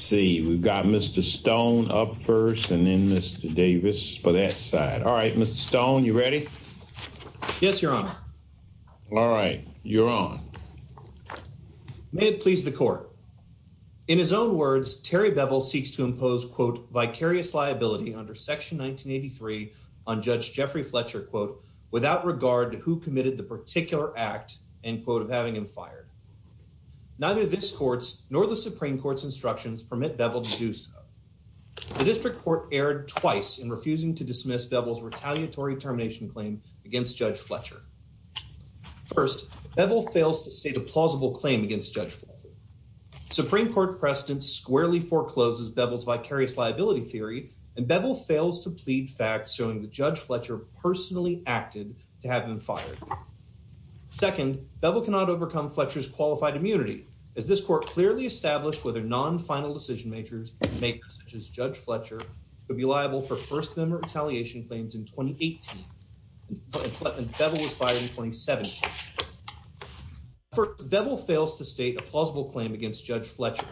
See, we've got Mr. Stone up first and then Mr. Davis for that side. All right, Mr. Stone, you ready? Yes, your honor. All right, you're on. May it please the court. In his own words, Terry Bevill seeks to impose, quote, vicarious liability under section 1983 on Judge Jeffrey Fletcher, quote, without regard to who committed the particular act, end quote, of having him fired. Neither this Supreme Court's instructions permit Bevill to do so. The district court erred twice in refusing to dismiss Bevill's retaliatory termination claim against Judge Fletcher. First, Bevill fails to state a plausible claim against Judge Fletcher. Supreme Court precedents squarely forecloses Bevill's vicarious liability theory and Bevill fails to plead facts showing that Judge Fletcher personally acted to have him fired. Second, Bevill cannot overcome Fletcher's qualified immunity, as this court clearly established whether non-final decision makers, such as Judge Fletcher, would be liable for first-demember retaliation claims in 2018, and Fletman Bevill was fired in 2017. First, Bevill fails to state a plausible claim against Judge Fletcher.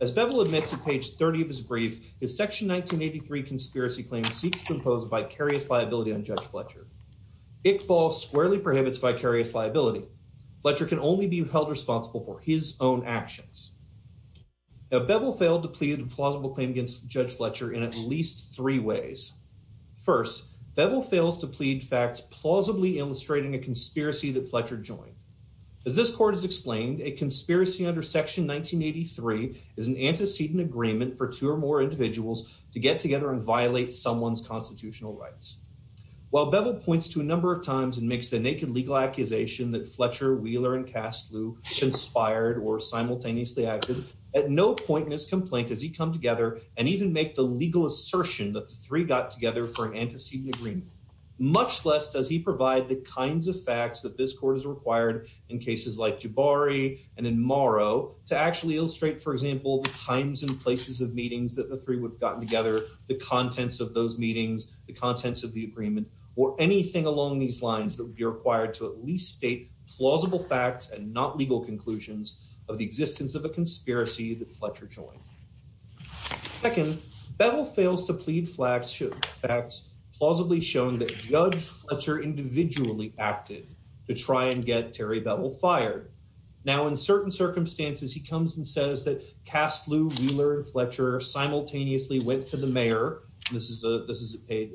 As Bevill admits in page 30 of his brief, his section 1983 conspiracy claim seeks to impose vicarious liability on Judge Fletcher. Iqbal squarely prohibits vicarious liability. Fletcher can only be held responsible for his own actions. Now, Bevill failed to plead a plausible claim against Judge Fletcher in at least three ways. First, Bevill fails to plead facts plausibly illustrating a conspiracy that Fletcher joined. As this court has explained, a conspiracy under section 1983 is an antecedent agreement for two or more individuals to get together and violate someone's constitutional rights. While Bevill points to a number of times and makes the naked accusation that Fletcher, Wheeler, and Kaslu conspired or simultaneously acted, at no point in his complaint does he come together and even make the legal assertion that the three got together for an antecedent agreement. Much less does he provide the kinds of facts that this court is required in cases like Jabari and in Morrow to actually illustrate, for example, the times and places of meetings that the three would have gotten together, the contents of those meetings, the contents of the agreement, or anything along these lines that would be required to at least state plausible facts and not legal conclusions of the existence of a conspiracy that Fletcher joined. Second, Bevill fails to plead facts plausibly showing that Judge Fletcher individually acted to try and get Terry Bevill fired. Now, in certain circumstances, he comes and says that Kaslu, Wheeler, and Fletcher simultaneously went to the mayor. This is page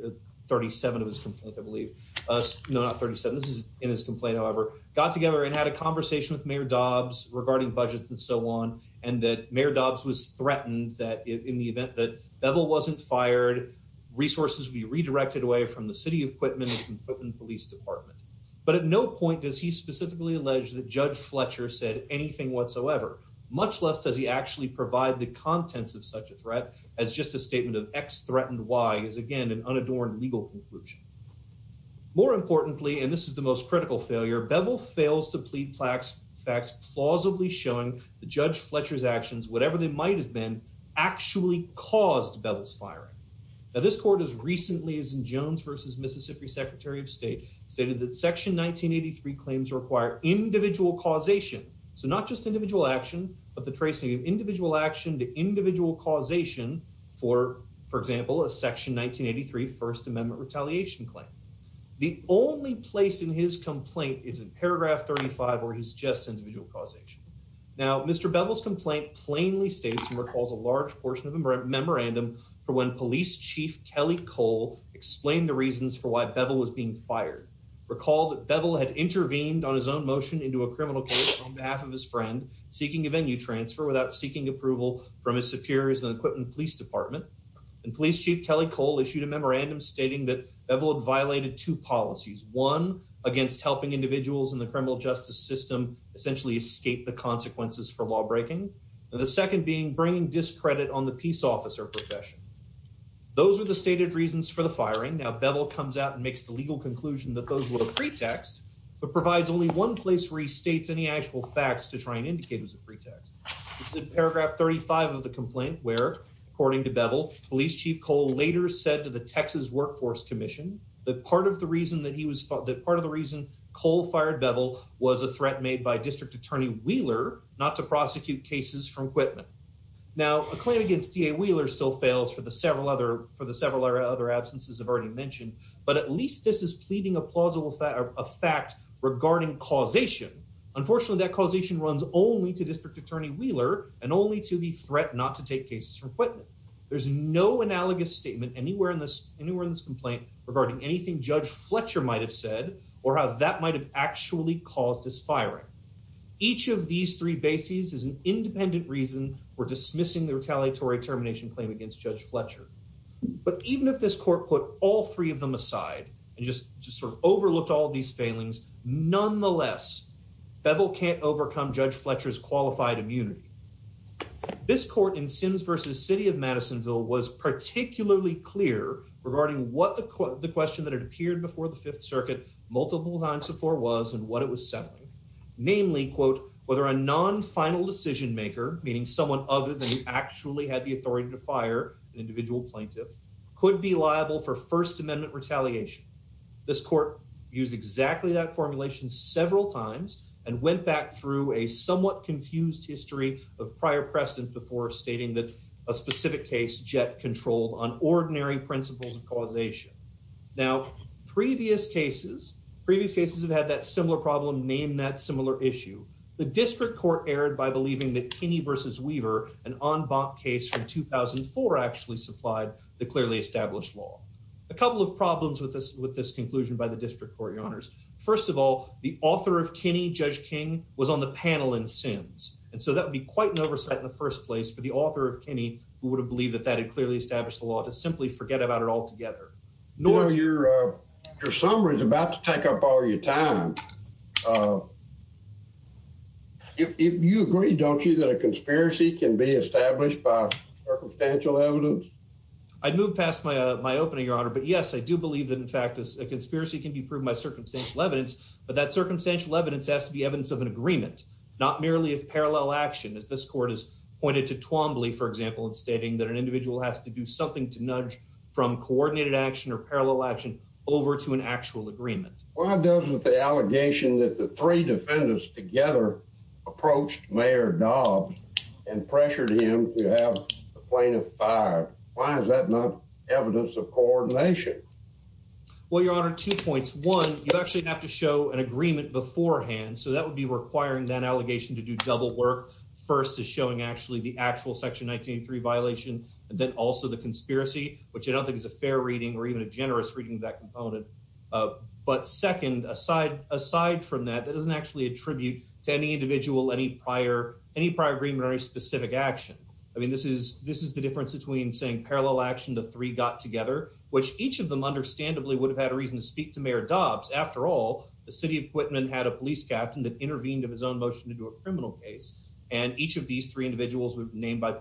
37 of his complaint, I believe. No, not 37. This is in his complaint, however. Got together and had a conversation with Mayor Dobbs regarding budgets and so on, and that Mayor Dobbs was threatened that in the event that Bevill wasn't fired, resources would be redirected away from the City of Quitman and the Quitman Police Department. But at no point does he specifically allege that Judge Fletcher said anything whatsoever, much less does he actually provide the contents of such a threat as just a statement of X threatened Y is, again, an unadorned legal conclusion. More importantly, and this is the most critical failure, Bevill fails to plead facts plausibly showing that Judge Fletcher's actions, whatever they might have been, actually caused Bevill's firing. Now, this court has recently, as in Jones v. Mississippi Secretary of State, stated that Section 1983 claims require individual causation. So, not just individual action, but the tracing of individual action to individual causation for, for example, a Section 1983 First Amendment retaliation claim. The only place in his complaint is in paragraph 35 where he suggests individual causation. Now, Mr. Bevill's complaint plainly states and recalls a large portion of a memorandum for when Police Chief Kelly Cole explained the reasons for why Bevill was being fired. Recall that Bevill had intervened on his own motion into a criminal case on behalf of his friend seeking a venue transfer without seeking approval from his superiors and the Quinton Police Department and Police Chief Kelly Cole issued a memorandum stating that Bevill had violated two policies, one against helping individuals in the criminal justice system essentially escape the consequences for lawbreaking, and the second being bringing discredit on the peace officer profession. Those are the stated reasons for the firing. Now, Bevill comes out and makes the legal conclusion that those were a pretext, but provides only one place where he states any actual facts to try and indicate it was a pretext. It's in paragraph 35 of the complaint where, according to Bevill, Police Chief Cole later said to the Texas Workforce Commission that part of the reason that he was, that part of the reason Cole fired Bevill was a threat made by District Attorney Wheeler not to prosecute cases from Quitman. Now, a claim against DA Wheeler still fails for the several other, for the several other absences I've already mentioned, but at least this is a fact regarding causation. Unfortunately, that causation runs only to District Attorney Wheeler and only to the threat not to take cases from Quitman. There's no analogous statement anywhere in this, anywhere in this complaint regarding anything Judge Fletcher might have said or how that might have actually caused his firing. Each of these three bases is an independent reason for dismissing the retaliatory termination claim against Judge Fletcher. But even if this court put all three of them aside and just sort of overlooked all these failings, nonetheless, Bevill can't overcome Judge Fletcher's qualified immunity. This court in Sims versus City of Madisonville was particularly clear regarding what the question that had appeared before the Fifth Circuit multiple times before was and what it was settling. Namely, quote, whether a non-final decision maker, meaning someone other than you actually had the authority to fire an individual plaintiff, could be liable for First Amendment retaliation. This court used exactly that formulation several times and went back through a somewhat confused history of prior precedent before stating that a specific case jet controlled on ordinary principles of causation. Now, previous cases, previous cases have had that similar problem named that similar issue. The District Court erred by believing that Kinney versus Weaver, an en banc case from 2004, actually supplied the clearly established law. A couple of problems with this with this conclusion by the District Court, Your Honors. First of all, the author of Kinney, Judge King, was on the panel in Sims. And so that would be quite an oversight in the first place for the author of Kinney, who would have believed that that had clearly established the law, to simply forget about it altogether. Your summary is about to take up all your time. If you agree, don't you, that a conspiracy can be established by circumstantial evidence? I'd move past my opening, Your Honor. But yes, I do believe that, in fact, a conspiracy can be proved by circumstantial evidence. But that circumstantial evidence has to be evidence of an agreement, not merely of parallel action, as this court has pointed to Twombly, for example, in stating that an individual has to do something to nudge from coordinated action or parallel action over to an actual agreement. Why doesn't the allegation that the three defendants together approached Mayor Dobbs and pressured him to have the plaintiff fired, why is that not evidence of coordination? Well, Your Honor, two points. One, you actually have to show an agreement beforehand. So that would be requiring that allegation to do double work. First is showing actually the actual Section 193 violation, and then also the conspiracy, which I don't think is a fair reading or even a component. But second, aside from that, that doesn't actually attribute to any individual any prior agreement or any specific action. I mean, this is the difference between saying parallel action, the three got together, which each of them understandably would have had a reason to speak to Mayor Dobbs. After all, the city of Quitman had a police captain that intervened in his own motion to do a criminal case, and each of these three individuals were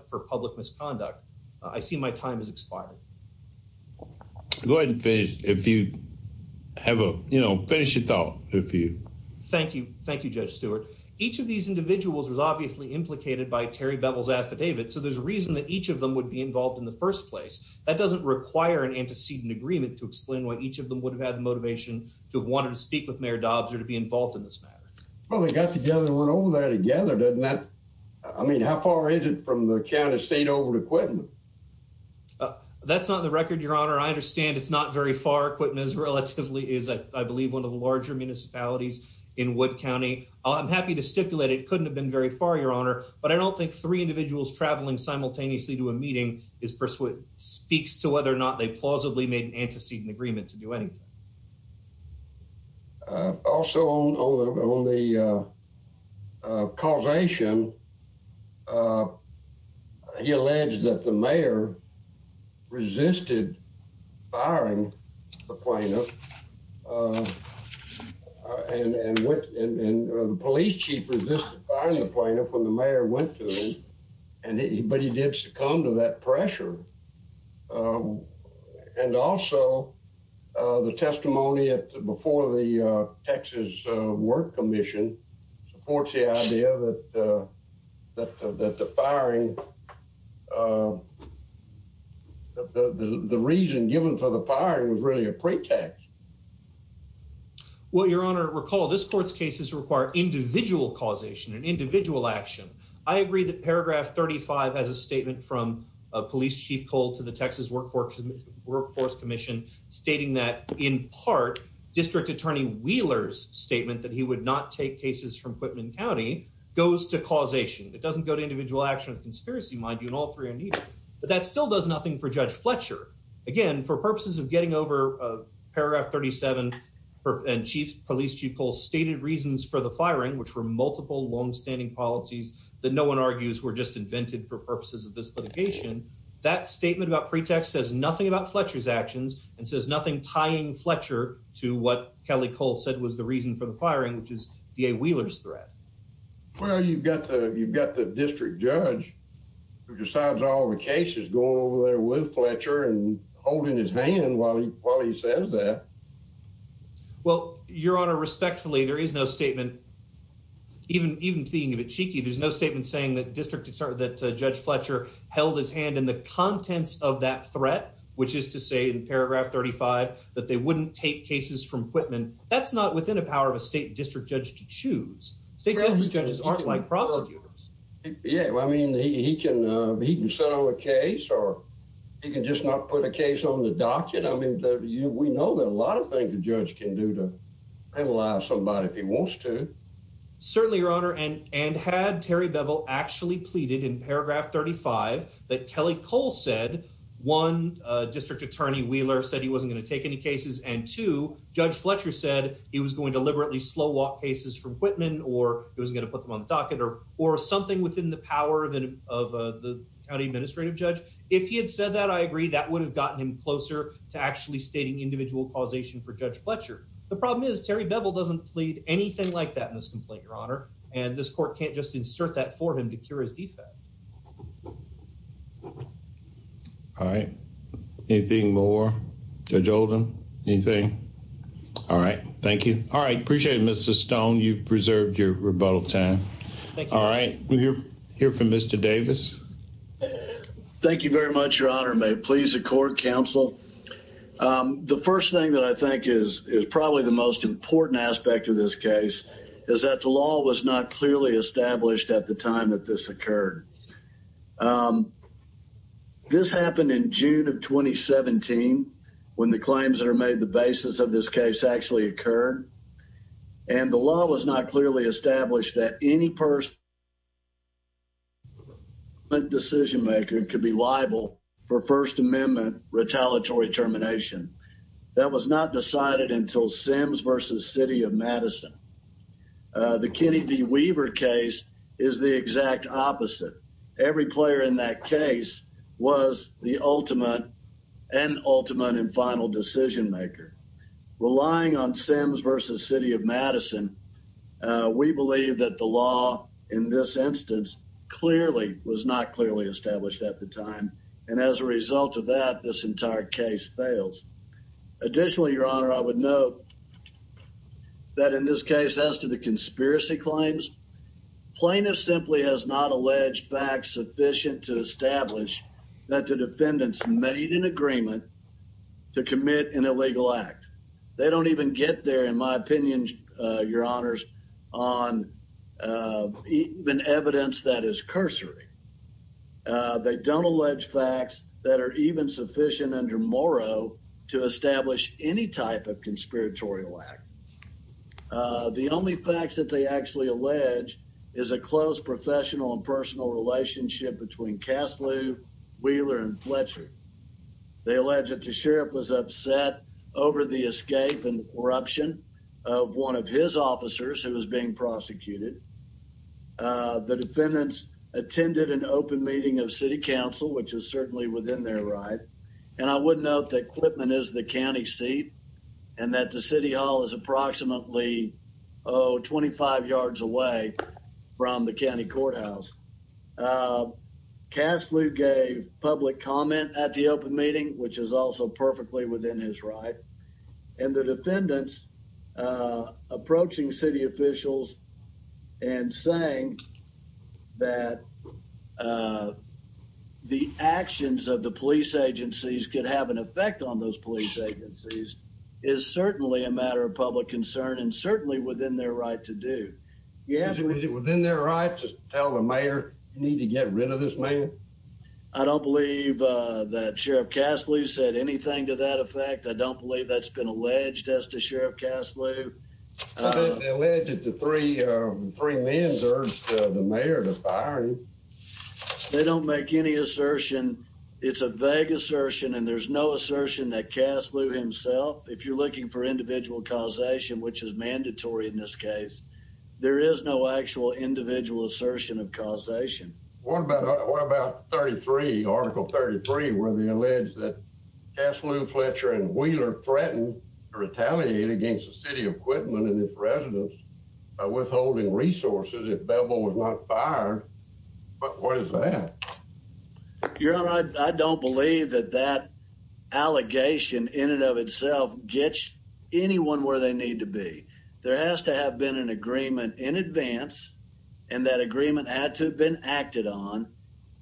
for public misconduct. I see my time has expired. Go ahead and finish, if you have a, you know, finish your thought, if you. Thank you. Thank you, Judge Stewart. Each of these individuals was obviously implicated by Terry Bevel's affidavit. So there's a reason that each of them would be involved in the first place. That doesn't require an antecedent agreement to explain why each of them would have had the motivation to have wanted to speak with Mayor Dobbs or to be involved in this matter. Well, they got together and went over there together, doesn't that, I mean, how far is it from the county state over to Quitman? That's not the record, Your Honor. I understand it's not very far. Quitman is relatively, is, I believe, one of the larger municipalities in Wood County. I'm happy to stipulate it couldn't have been very far, Your Honor, but I don't think three individuals traveling simultaneously to a meeting speaks to whether or not they plausibly made an antecedent agreement to do anything. Also, on the causation, he alleged that the mayor resisted firing the plaintiff and the police chief resisted firing the plaintiff when the mayor went to him, but he did succumb to that pressure. And also, the testimony before the Texas Work Commission supports the idea that the firing, the reason given for the firing was really a pretext. Well, Your Honor, recall this court's cases require individual causation and individual action. I agree that Paragraph 35 has a statement from Police Chief Cole to the Texas Workforce Commission stating that, in part, District Attorney Wheeler's statement that he would not take cases from Quitman County goes to causation. It doesn't go to individual action or conspiracy, mind you, and all three are needed. But that still does nothing for Judge Fletcher. Again, for purposes of getting over Paragraph 37 and Police Chief Cole's stated reasons for the firing, which were that no one argues were just invented for purposes of this litigation, that statement about pretext says nothing about Fletcher's actions and says nothing tying Fletcher to what Kelly Cole said was the reason for the firing, which is DA Wheeler's threat. Well, you've got the district judge who decides all the cases going over there with Fletcher and holding his hand while he says that. Well, Your Honor, respectfully, there is no statement, even being a bit cheeky, there's no statement saying that Judge Fletcher held his hand in the contents of that threat, which is to say in Paragraph 35 that they wouldn't take cases from Quitman. That's not within the power of a state district judge to choose. State district judges aren't like prosecutors. Yeah, I mean, he can settle a case or he can just not put a case on the docket. I mean, we know that a lot of things a judge can do to penalize somebody if he wants to. Certainly, Your Honor, and had Terry Bevel actually pleaded in Paragraph 35 that Kelly Cole said, one, District Attorney Wheeler said he wasn't going to take any cases, and two, Judge Fletcher said he was going to deliberately slow walk cases from Quitman or he wasn't going to put them on the docket or something within the power of the county administrative judge. If he had said that, I agree that would have gotten him closer to actually stating individual causation for Judge Fletcher. The problem is Terry Bevel doesn't plead anything like that in this complaint, Your Honor, and this court can't just insert that for him to cure his defect. All right. Anything more? Judge Oldham? Anything? All right. Thank you. All right. Appreciate it, Mr. Stone. You've preserved your rebuttal time. All right. We'll hear from Mr. Davis. Thank you very much, Your Honor. May it please the court, counsel. The first thing that I think is probably the most important aspect of this case is that the law was not clearly established at the time that this occurred. This happened in June of 2017, when the claims that are made the basis of this case actually occurred, and the law was not clearly established that any person decision maker could be liable for First Amendment retaliatory termination. That was not decided until Sims v. City of Madison. The Kenny V. Weaver case is the exact opposite. Every player in that Sims v. City of Madison. We believe that the law in this instance clearly was not clearly established at the time, and as a result of that, this entire case fails. Additionally, Your Honor, I would note that in this case, as to the conspiracy claims, plaintiff simply has not alleged facts sufficient to establish that the defendants made an agreement to commit an illegal act. They don't even get there, in my opinion, Your Honors, on even evidence that is cursory. They don't allege facts that are even sufficient under Morrow to establish any type of conspiratorial act. The only facts that they actually allege is a close professional and personal relationship between Kaslu, Wheeler, and Fletcher. They allege that the sheriff was upset over the escape and the corruption of one of his officers who was being prosecuted. The defendants attended an open meeting of city council, which is certainly within their right, and I would note that Clipman is the county seat and that the city hall is approximately, oh, 25 yards away from the county courthouse. Kaslu gave public comment at the open meeting, which is also perfectly within his right, and the defendants approaching city officials and saying that the actions of the police agencies could have an effect on those police agencies is certainly a matter of public concern and certainly within their right to do. Is it within their right to tell the mayor you need to get rid of this man? I don't believe that Sheriff Kaslu said anything to that effect. I don't believe that's been alleged as to Sheriff Kaslu. It's been alleged that the three men urged the mayor to fire him. They don't make any assertion. It's a vague assertion, and there's no assertion that if you're looking for individual causation, which is mandatory in this case, there is no actual individual assertion of causation. What about Article 33, where they allege that Kaslu, Fletcher, and Wheeler threatened to retaliate against the city of Clipman and its residents by withholding resources if Bebo was not fired? What is that? Your Honor, I don't believe that that gets anyone where they need to be. There has to have been an agreement in advance, and that agreement had to have been acted on,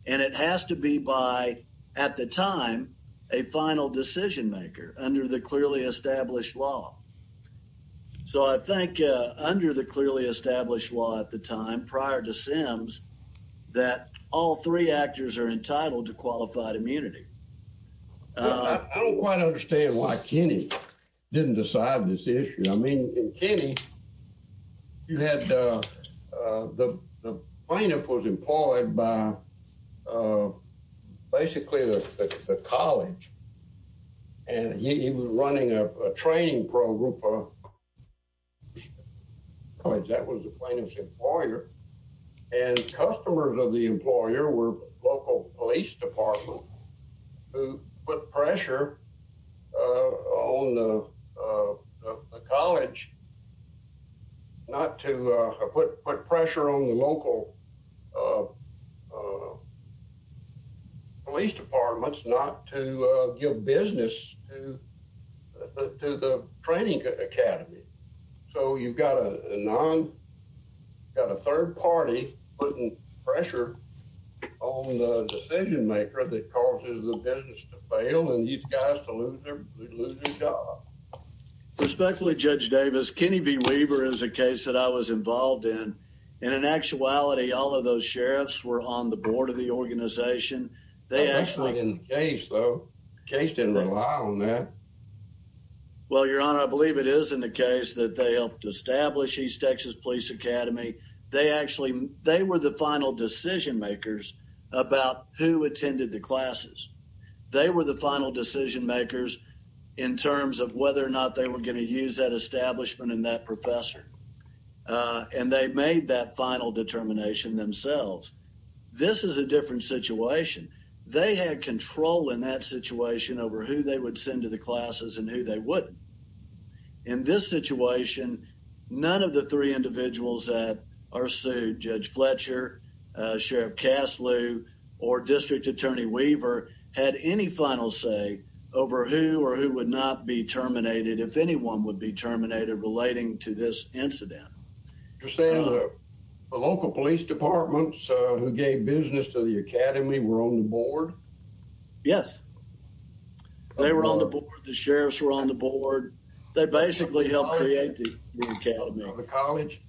and it has to be by, at the time, a final decision maker under the clearly established law. So I think under the clearly established law at the time, prior to Sims, that all three actors are entitled to qualified immunity. Well, I don't quite understand why Kenney didn't decide this issue. I mean, in Kenney, you had the plaintiff was employed by basically the college, and he was running a training program because that was the plaintiff's employer, and customers of the employer were local police departments who put pressure on the college not to—put pressure on the local police departments not to give business to the training academy. So you've got a third party putting pressure on the decision maker that causes the business to fail and these guys to lose their job. Respectfully, Judge Davis, Kenney v. Weaver is a case that I was involved in, and in actuality, all of those sheriffs were on the board of the organization. That's not in the case, though. The case didn't rely on that. Well, Your Honor, I believe it is in the case that they helped establish East Texas Police Academy. They actually—they were the final decision makers about who attended the classes. They were the final decision makers in terms of whether or not they were going to use that establishment and that professor, and they made that final determination themselves. This is a different situation. They had control in that situation over who they would send to classes and who they wouldn't. In this situation, none of the three individuals that are sued, Judge Fletcher, Sheriff Caslew, or District Attorney Weaver, had any final say over who or who would not be terminated if anyone would be terminated relating to this incident. You're saying the local police departments who gave business to the academy were on the board? Yes. They were on the board. The sheriffs were on the board. They basically helped create the academy. The college?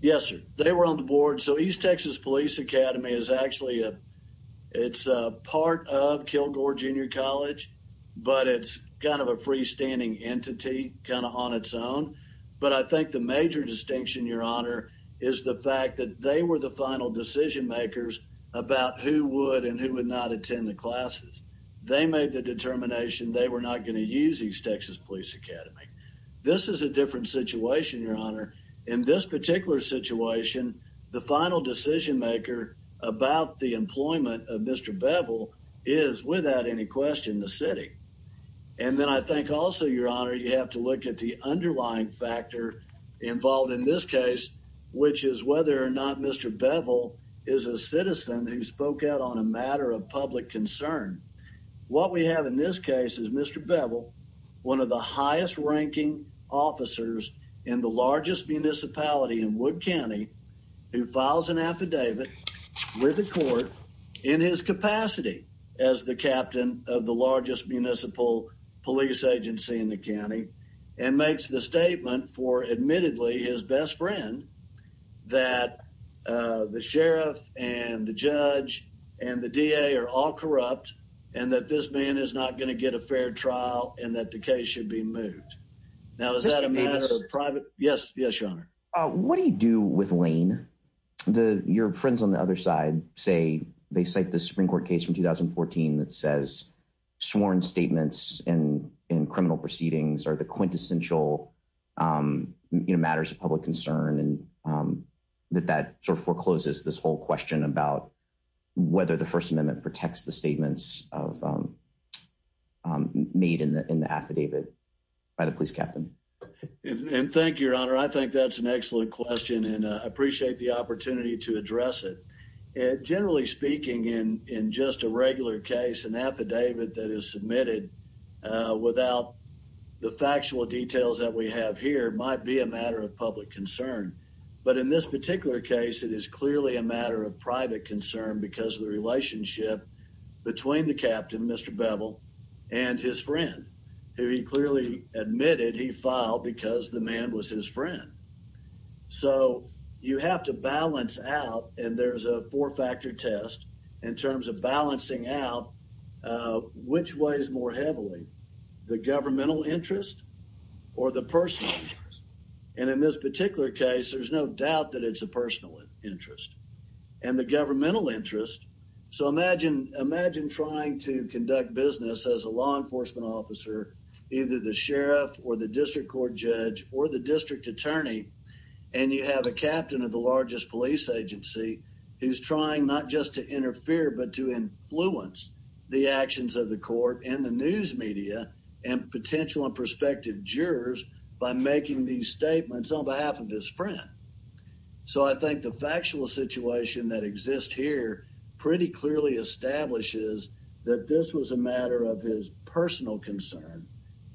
Yes, sir. They were on the board. So East Texas Police Academy is actually a—it's part of Kilgore Junior College, but it's kind of a freestanding entity, kind of on its own. But I think the major distinction, Your Honor, is the fact that they were the final decision makers about who would and who would not attend the classes. They made the determination they were not going to use East Texas Police Academy. This is a different situation, Your Honor. In this particular situation, the final decision maker about the employment of Mr. Beville is, without any question, the city. And then I think also, Your Honor, you have to look at the on a matter of public concern. What we have in this case is Mr. Beville, one of the highest ranking officers in the largest municipality in Wood County, who files an affidavit with the court in his capacity as the captain of the largest municipal police agency in the county and makes the statement for, admittedly, his best friend, that the sheriff and the judge and the D.A. are all corrupt and that this man is not going to get a fair trial and that the case should be moved. Now, is that a matter of private— Yes. Yes, Your Honor. What do you do with Lane? Your friends on the other side say they cite the Supreme Court case from 2014 that says sworn statements in criminal proceedings are the quintessential matters of public concern and that that sort of forecloses this whole question about whether the First Amendment protects the statements made in the affidavit by the police captain. And thank you, Your Honor. I think that's an excellent question and I appreciate the regular case. An affidavit that is submitted without the factual details that we have here might be a matter of public concern, but in this particular case, it is clearly a matter of private concern because of the relationship between the captain, Mr. Beville, and his friend, who he clearly admitted he filed because the man was his friend. So, you have to balance out, and there's a four-factor test in terms of balancing out which weighs more heavily, the governmental interest or the personal interest. And in this particular case, there's no doubt that it's a personal interest and the governmental interest. So, imagine trying to conduct business as a law enforcement officer, either the sheriff or the district court judge or the district attorney, and you have a captain of the largest police agency who's trying not just to interfere, but to influence the actions of the court and the news media and potential and prospective jurors by making these statements on behalf of his friend. So, I think the factual situation that exists here pretty clearly establishes that this was a matter of his personal concern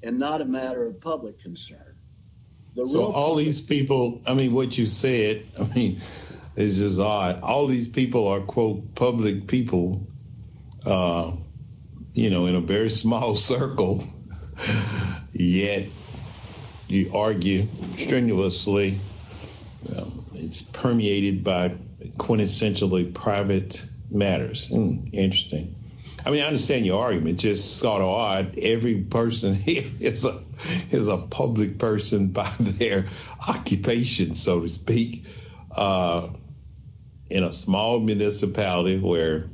and not a matter of public concern. So, all these people, I mean, what you said, is just odd. All these people are, quote, public people, you know, in a very small circle, yet you argue strenuously. It's permeated by quintessentially private matters. Interesting. I mean, I understand your argument, just sort of odd. Every person here is a public person by their occupation, so to speak, in a small municipality where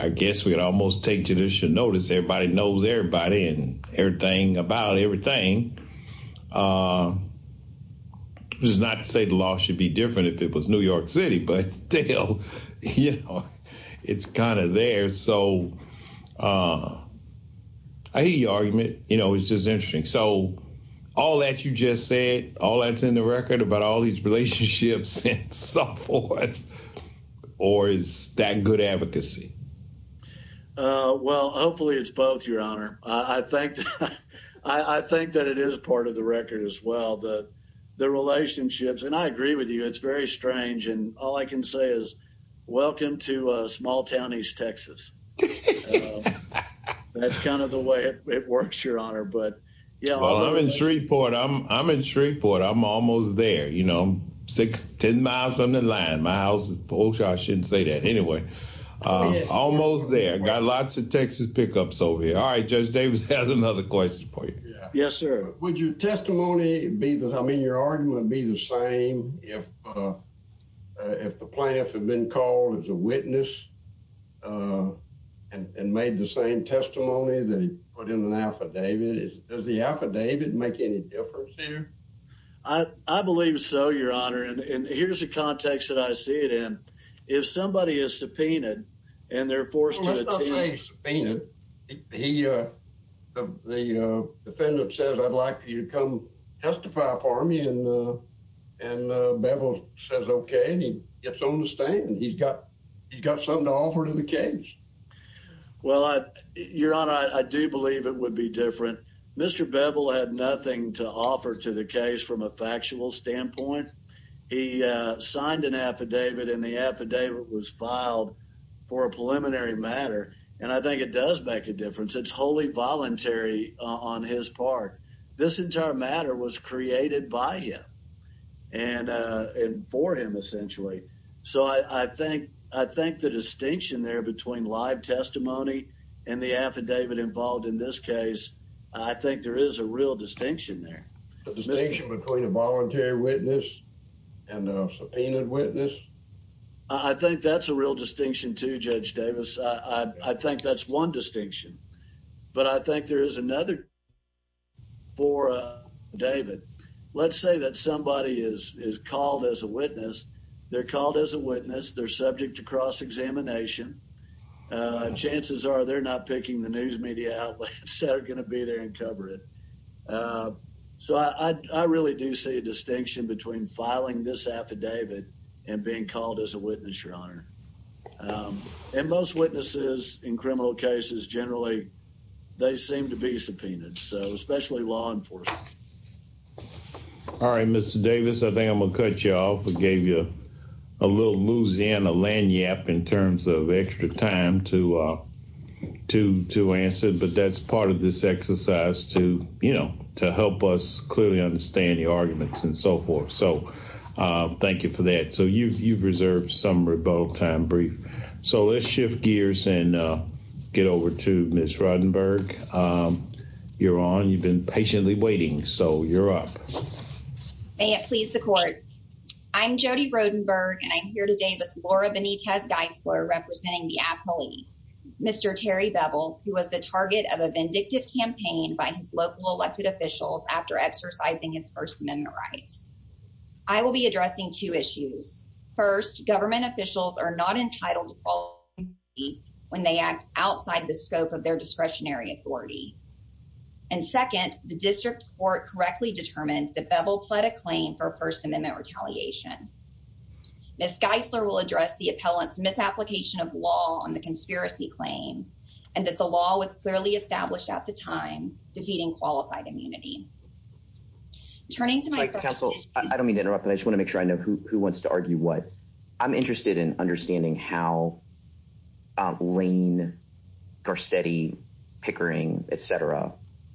I guess we could almost take judicial notice. Everybody knows everybody and everything about everything. It's not to say the law should be different if it was New York City, but still, you know, it's kind of there. So, I hear your argument. You know, it's just interesting. So, all that you just said, all that's in the record about all these relationships and so forth, or is that good advocacy? Well, hopefully it's both, Your Honor. I think that it is part of the record as well, the relationships, and I agree with you. It's very strange, and all I can say is, welcome to small-town East Texas. That's kind of the way it works, Your Honor. Well, I'm in Shreveport. I'm in Shreveport. I'm almost there, you know, six, ten miles from the line. My house, I shouldn't say that. Anyway, almost there. Got lots of Texas pickups over here. All right, Judge Davis has another question for you. Your argument would be the same if the plaintiff had been called as a witness and made the same testimony that he put in an affidavit. Does the affidavit make any difference here? I believe so, Your Honor, and here's the context that I see it in. If somebody is subpoenaed and they're forced to attend. Well, let's not say he's subpoenaed. The defendant says, I'd like for you to come testify for me, and Bevel says okay, and he gets on the stand, and he's got something to offer to the case. Well, Your Honor, I do believe it would be different. Mr. Bevel had nothing to offer to the case from a factual standpoint. He signed an affidavit, and the affidavit was filed for a preliminary matter, and I think it does make a difference. It's wholly voluntary on his part. This entire matter was created by him and for him, essentially, so I think the distinction there between live testimony and the affidavit involved in this case, I think there is a real distinction there. The distinction between a voluntary witness and a subpoenaed witness. I think that's a real distinction too, Judge Davis. I think that's one distinction, but I think there is another for David. Let's say that somebody is called as a witness. They're called as a witness. They're subject to cross-examination. Chances are they're not picking the news media outlets that are going to be there and cover it, so I really do see a distinction between filing this affidavit and being called as a witness, Your Honor, and most witnesses in criminal cases generally, they seem to be subpoenaed, so especially law enforcement. All right, Mr. Davis, I think I'm going to cut you off. I gave you a little Louisiana lanyard in terms of extra time to answer, but that's part of this exercise to help us clearly understand the arguments and so forth, so thank you for that. You've reserved some rebuttal time brief, so let's shift gears and get over to Ms. Rodenberg. Your Honor, you've been patiently waiting, so you're up. May it please the court. I'm Jody Rodenberg, and I'm here today with Laura Benitez Geisler representing the affiliate, Mr. Terry Bevel, who was the target of a vindictive campaign by his local elected officials after exercising its First Amendment rights. I will be addressing two issues. First, government officials are not entitled to fall when they act outside the scope of their discretionary authority, and second, the district court correctly determined that Bevel pled a claim for First Amendment retaliation. Ms. Geisler will address the appellant's misapplication of law on the law was clearly established at the time defeating qualified immunity. Turning to my counsel, I don't mean to interrupt, but I just want to make sure I know who wants to argue what I'm interested in understanding how Lane Garcetti Pickering, etc.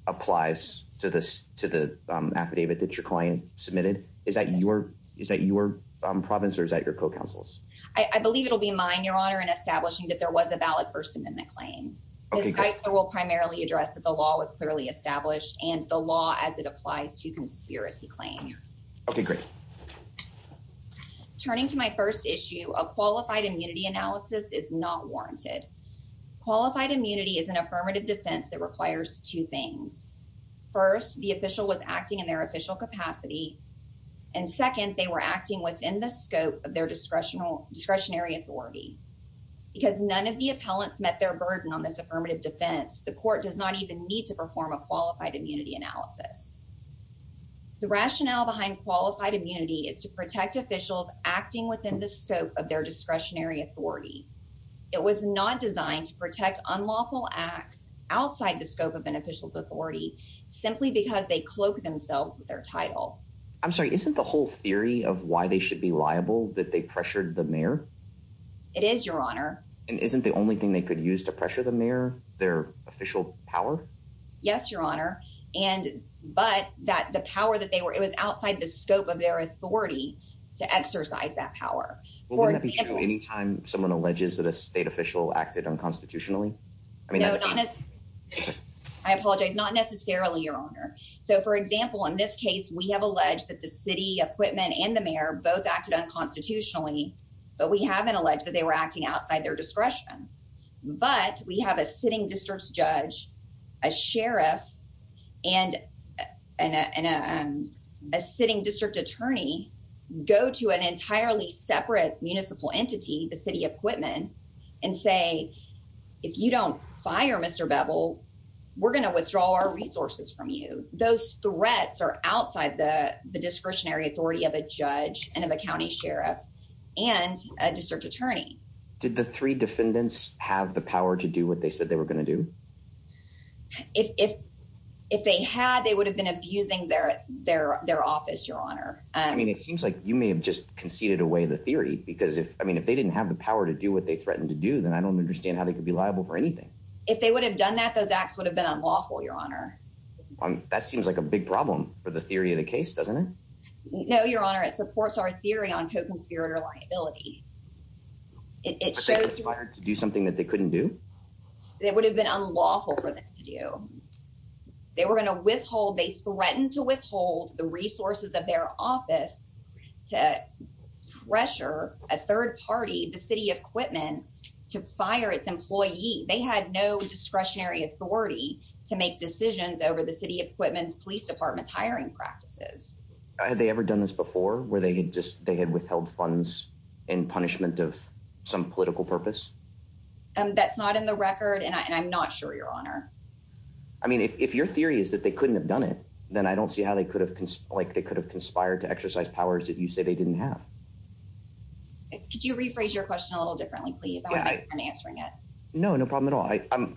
applies to this to the affidavit that your client submitted. Is that your is that your province or is that your co councils? I believe it will be mine, Your Honor, and establishing that there was a valid First Amendment claim will primarily address that the law was clearly established and the law as it applies to conspiracy claims. Okay, great. Turning to my first issue of qualified immunity analysis is not warranted. Qualified immunity is an affirmative defense that requires two things. First, the official was acting in their official capacity, and second, they were acting within the on this affirmative defense. The court does not even need to perform a qualified immunity analysis. The rationale behind qualified immunity is to protect officials acting within the scope of their discretionary authority. It was not designed to protect unlawful acts outside the scope of an official's authority simply because they cloak themselves with their title. I'm sorry, isn't the whole theory of why they should be liable that they pressured the mayor? It is, Your Honor. And isn't the only thing they could use to pressure the mayor, their official power? Yes, Your Honor. And but that the power that they were, it was outside the scope of their authority to exercise that power. Anytime someone alleges that a state official acted unconstitutionally. I apologize, not necessarily, Your Honor. So, for example, in this case, we have alleged that the city equipment and the mayor both acted unconstitutionally, but we haven't alleged that they were acting outside their discretion. But we have a sitting district judge, a sheriff, and a sitting district attorney go to an entirely separate municipal entity, the city equipment, and say, if you don't fire Mr. Bevel, we're going to withdraw our resources from you. Those threats are outside the discretionary authority of a judge and of a county sheriff and a district attorney. Did the three defendants have the power to do what they said they were going to do? If if they had, they would have been abusing their their their office, Your Honor. I mean, it seems like you may have just conceded away the theory, because if I mean, if they didn't have the power to do what they threatened to do, then I don't understand how they could be liable for anything. If they would have done that, those acts would have been unlawful, Your Honor. That seems like a big problem for the theory of the case, doesn't it? No, Your Honor. It supports our theory on co-conspirator liability. It shows you fired to do something that they couldn't do. It would have been unlawful for them to do. They were going to withhold. They threatened to withhold the resources of their office to pressure a third party, the city equipment to fire its employee. They had no discretionary authority to make decisions over the city equipment, police departments, hiring practices. Had they ever done this before, where they had just they had withheld funds in punishment of some political purpose? That's not in the record, and I'm not sure, Your Honor. I mean, if your theory is that they couldn't have done it, then I don't see how they could have like they could have conspired to exercise powers that you say they didn't have. Could you rephrase your question a little differently, please? I'm answering it. No, no problem at all.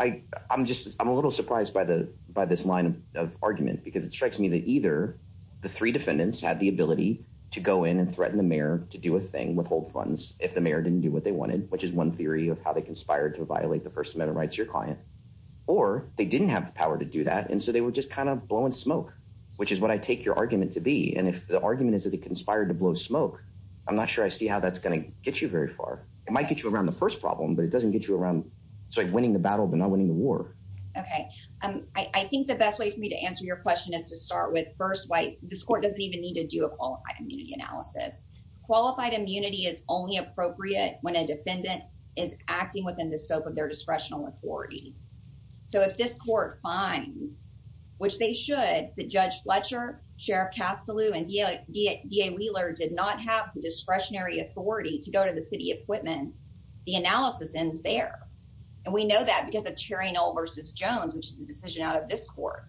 I'm just I'm a little surprised by the by this line of argument, because it strikes me that either the three defendants had the ability to go in and threaten the mayor to do a thing withhold funds if the mayor didn't do what they wanted, which is one theory of how they conspired to violate the First Amendment rights of your client, or they didn't have the power to do that. And so they were just kind of blowing smoke, which is what I take your argument to be. And if the argument is that they conspired to blow smoke, I'm not sure I see how that's going to get you very far. It might get you around the first problem, but it doesn't get you around sort of winning the battle, but not winning the war. Okay. I think the best way for me to answer your question is to start with first white. This court doesn't even need to do a qualified immunity analysis. Qualified immunity is only appropriate when a defendant is acting within the scope of their discretional authority. So if this court finds, which they should, the Judge Fletcher, Sheriff Castileau and D.A. Wheeler did not have the discretionary authority to go to the city equipment, the analysis ends there. And we know that because of Cherry Knoll versus Jones, which is a decision out of this court.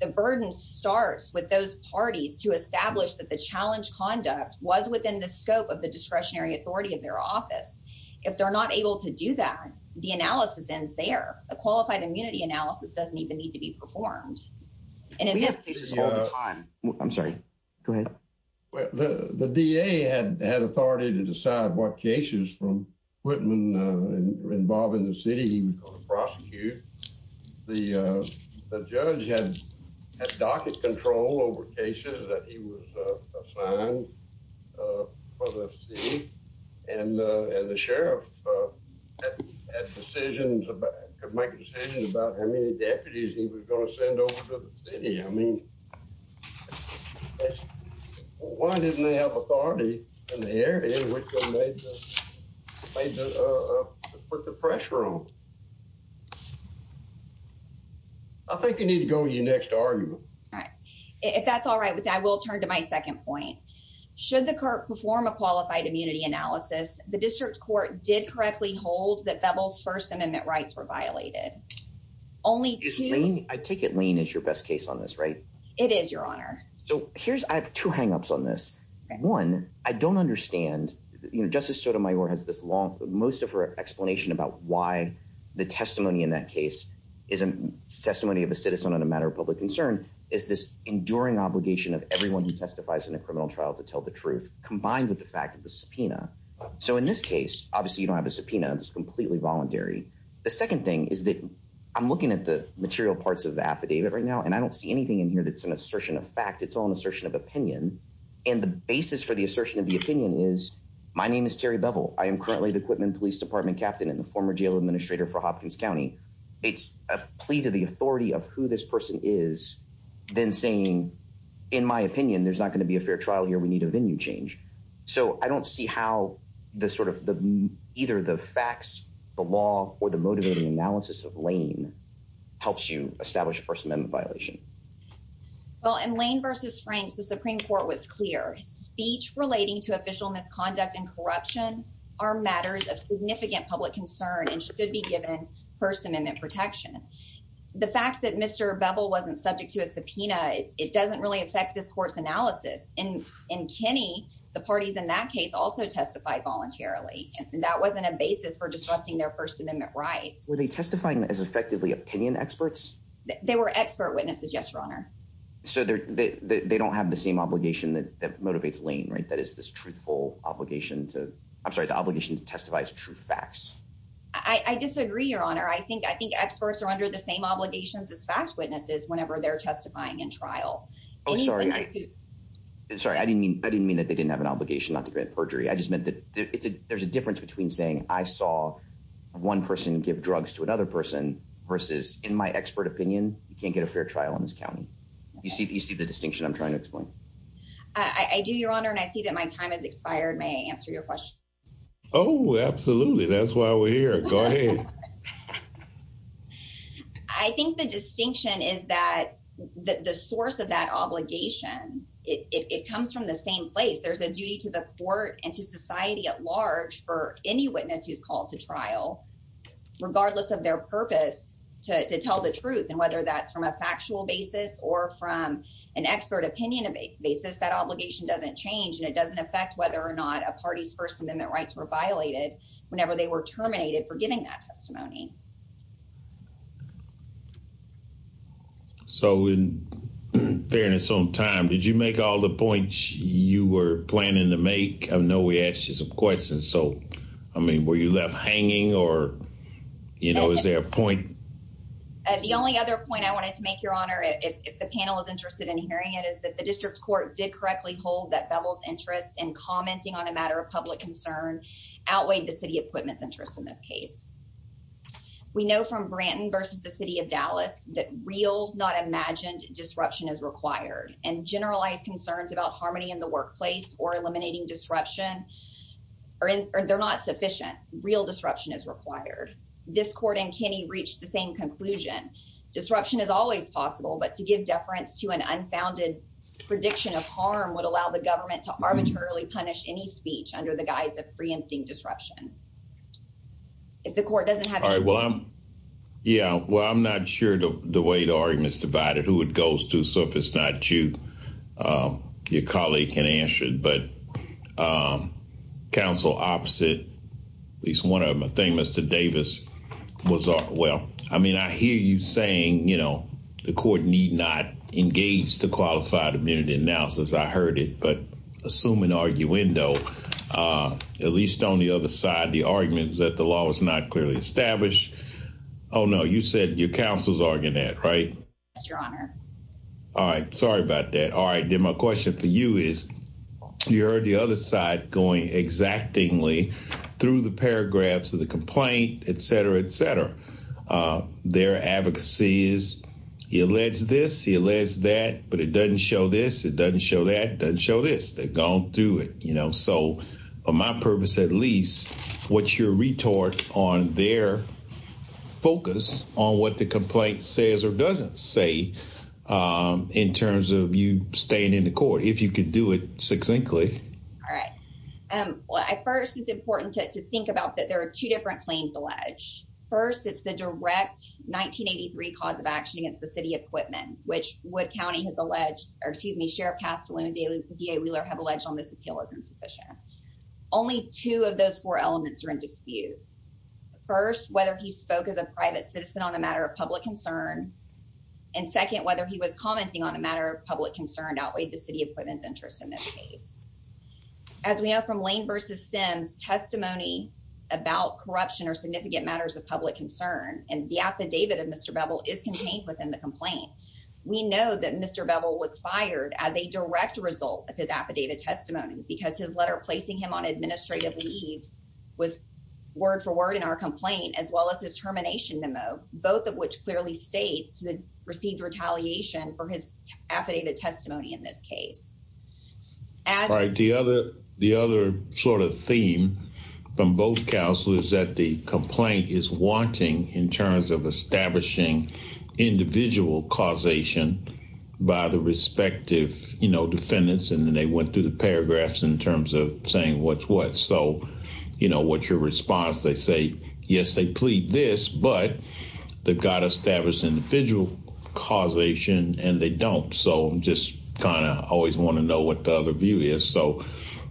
The burden starts with those parties to establish that the challenge conduct was within the scope of the discretionary authority of their office. If they're not able to do that, the analysis ends there. A qualified immunity analysis doesn't even need to be performed. And in this case, it's all the time. I'm sorry. Go ahead. The D.A. had authority to decide what cases from Whitman involved in the city he was going to prosecute. The judge had docket control over cases that he was assigned for the city. And the sheriff had decisions about, could make decisions about how many deputies he was going to send over to the city. I mean, why didn't they have authority in the area in which they put the pressure on? I think you need to go to your next argument. All right. If that's all right with that, I will turn to my second point. Should the court perform a qualified immunity analysis, the district court did correctly hold that Bevel's first amendment rights were violated. Only I take it lean is your best case on this, right? It is your honor. So here's I have two hangups on this one. I don't understand. Justice Sotomayor has this long, most of her explanation about why the testimony in that case is a testimony of a citizen on a matter of public concern. Is this enduring obligation of everyone who testifies in a criminal trial to tell the truth, combined with the fact that the subpoena. So in this case, obviously, you don't have a subpoena. It's completely voluntary. The second thing is that I'm looking at the material parts of the affidavit right now, and I don't see anything in here that's an assertion of fact. It's all an assertion of opinion. And the basis for the assertion of the opinion is my name is Terry Bevel. I am currently the equipment police department captain and the former jail administrator for Hopkins County. It's a plea to the authority of who this person is then saying, in my opinion, there's not going to be a fair trial here. We need a venue change. So I don't see how the sort of the either the facts, the law or the motivating analysis of Lane helps you establish a First Amendment violation. Well, in Lane versus Franks, the Supreme Court was clear speech relating to official misconduct and corruption are matters of significant public concern and should be given First Amendment protection. The fact that Mr. Bevel wasn't subject to a subpoena, it doesn't really affect this court's analysis. And in Kenny, the parties in that case also testified voluntarily. And that wasn't a basis for disrupting their First Amendment rights. Were they testifying as effectively opinion experts? They were expert witnesses. Yes, your honor. So they don't have the same obligation that motivates Lane, right? That is this truthful obligation to I'm sorry, the obligation to testify as true facts. I disagree, your honor. I think I think experts are under the same obligations as fact witnesses whenever they're testifying in trial. I'm sorry. I'm sorry. I mean, I didn't mean that they didn't have an obligation not to grant perjury. I just meant that there's a difference between saying I saw one person give drugs to another person versus in my expert opinion, you can't get a fair trial in this county. You see, you see the distinction I'm trying to explain. I do, your honor. And I see that my time has expired. May I answer your question? Oh, absolutely. That's why we're here. Go ahead. I think the distinction is that the source of that obligation, it comes from the same place. There's a duty to the court and to society at large for any witness who's called to trial, regardless of their purpose to tell the truth. And whether that's from a factual basis or from an expert opinion of a basis, that obligation doesn't change. And it doesn't affect whether or not a party's First Amendment rights were violated whenever they were terminated for giving that testimony. So in fairness on time, did you make all the points you were planning to make? I know we asked you some questions. So, I mean, were you left hanging or, you know, is there a point? The only other point I wanted to make, your honor, if the panel is interested in hearing it, is that the district court did correctly hold that Bevel's interest in commenting on a matter of public concern outweighed the city equipment's interest in this case. We know from Branton versus the city of Dallas that real, not imagined disruption is required and generalized concerns about harmony in the workplace or eliminating disruption, they're not sufficient. Real disruption is required. This court and Kinney reached the same conclusion. Disruption is always possible, but to give deference to an unfounded prediction of harm would allow the government to arbitrarily punish any speech under the guise of preempting disruption. If the court doesn't have it. All right, well, I'm, yeah, well, I'm not sure the way the argument is divided, who it goes to, so if it's not you, your colleague can answer it, but counsel opposite, at least one of them, I think Mr. Davis was, well, I mean, I hear you saying, you know, the court need not engage the qualified immunity analysis. I heard it, but assume an arguendo, at least on the other side, the arguments that the law was not clearly established. Oh, no, you said your counsel's arguing that, right? Yes, your honor. All right, sorry about that. All right, then my question for you is, you heard the other side going exactingly through the paragraphs of the complaint, et cetera, et cetera. Their advocacy is, he alleged this, he alleged that, but it doesn't show this, it doesn't show that, it doesn't show this, they've gone through it, you know, so on my purpose, at least, what's your retort on their focus on what the complaint says or doesn't say in terms of you staying in the court, if you could do it succinctly? All right, well, first, it's important to think about that there are two different claims alleged. First, it's the direct 1983 cause of action against the city of Quitman, which Wood County has alleged, or excuse me, Sheriff Castellano and DA Wheeler have alleged on this appeal as insufficient. Only two of those four elements are in dispute. First, whether he spoke as a private citizen on a matter of public concern, and second, whether he was commenting on a matter of public concern outweighed the city of Quitman's interest in this case. As we know from Lane v. Sims' testimony about corruption or significant matters of public concern, and the affidavit of Mr. Bevel is contained within the complaint, we know that Mr. Bevel was fired as a direct result of his affidavit testimony because his letter placing him on administrative leave was word for word in our complaint, as well as his termination memo, both of which clearly state he received retaliation for his affidavit testimony in this case. All right, the other sort of theme from both counsel is that the complaint is wanting in terms of establishing individual causation by the respective, you know, defendants, and then they went through the paragraphs in terms of saying what's what. So, you know, what's your response? They say, yes, they plead this, but they've got to establish individual causation, and they don't. So, just kind of always want to know what the other view is. So,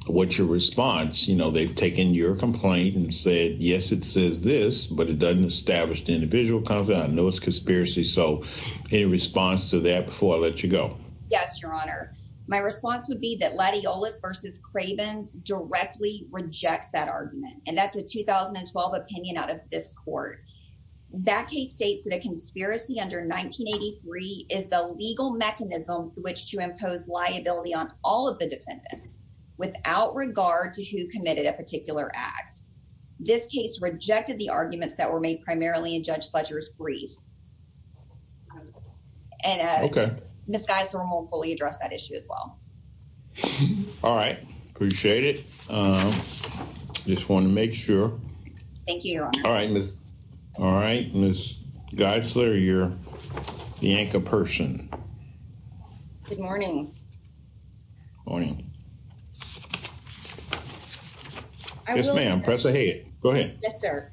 what's your response? You know, they've taken your complaint and said, yes, it says this, but it doesn't establish the individual cause. I know it's conspiracy. So, any response to that before I let you go? Yes, your honor. My response would be that Latiolos v. Cravens directly rejects that argument, and that's a 2012 opinion out of this court. That case states that a conspiracy under 1983 is the legal mechanism through which to impose liability on all of the defendants without regard to who committed a particular act. This case rejected the arguments that were made primarily in Judge Fletcher's brief. And Ms. Geisler will fully address that issue as well. All right. Appreciate it. Just want to make sure. Thank you, your honor. All right, Ms. Geisler, you're the anchor person. Good morning. Morning. Yes, ma'am, press ahead. Go ahead. Yes, sir.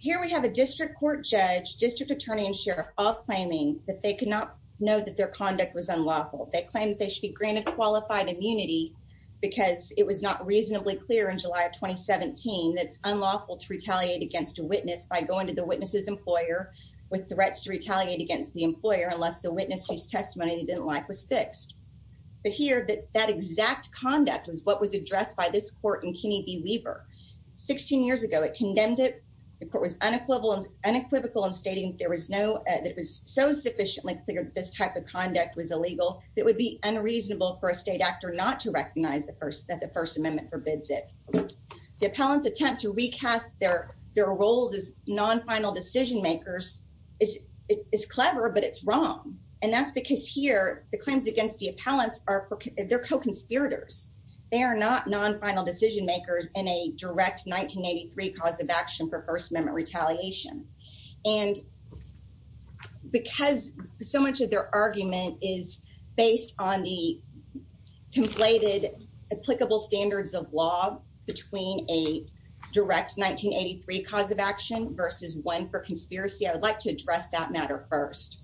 Here we have a district court judge, district attorney, and sheriff all claiming that they could not know that their conduct was unlawful. They claim that they should be granted qualified immunity because it was not reasonably clear in July of 2017 that it's unlawful to retaliate against a witness by going to the witness's employer with threats to retaliate against the employer unless the witness whose testimony he didn't like was fixed. But here, that exact conduct was what was addressed by this court in Kennebee Weaver. Sixteen years ago, it condemned it. The court was unequivocal in stating that it was so sufficiently clear that this type of conduct was illegal that it would be unreasonable for a state actor not to recognize that the First Amendment forbids it. The appellant's attempt to recast their roles as non-final decision makers is clever, but it's wrong. And that's because here, the claims against the appellants, they're co-conspirators. They are not non-final decision makers in a direct 1983 cause of action for First Amendment retaliation. And because so much of their argument is based on the conflated applicable standards of law between a direct 1983 cause of action versus one for conspiracy, I would like to address that matter first.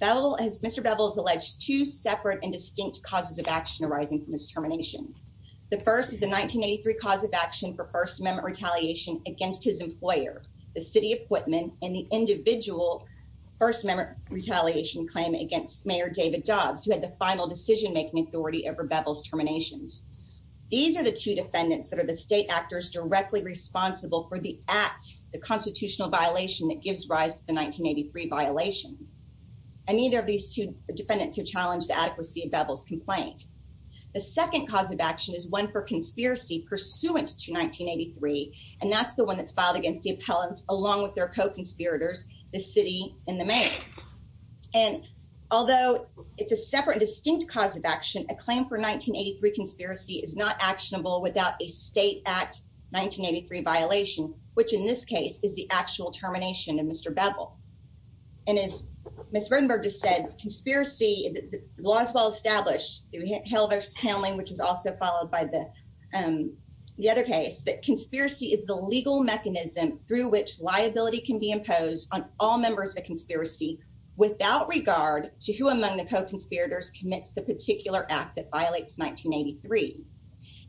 Mr. Bevel has alleged two separate and distinct causes of action arising from his termination. The first is a 1983 cause of action for First Amendment retaliation against his employer, the city of Whitman, and the individual First Amendment retaliation claim against Mayor David Dobbs, who had the final decision-making authority over Bevel's terminations. These are the two defendants that are the state actors directly responsible for the act, the constitutional violation that gives rise to the 1983 violation. And neither of these two defendants have challenged the adequacy of Bevel's complaint. The second cause of action is one for conspiracy pursuant to 1983, and that's the one that's filed against the appellants along with their co-conspirators, the city and the mayor. And although it's a separate and distinct cause of action, a claim for 1983 conspiracy is not actionable without a state act 1983 violation, which in this case is the actual termination of Ms. Rodenberg just said. Conspiracy, the law is well-established through Hale versus Hamlin, which was also followed by the other case, but conspiracy is the legal mechanism through which liability can be imposed on all members of a conspiracy without regard to who among the co-conspirators commits the particular act that violates 1983.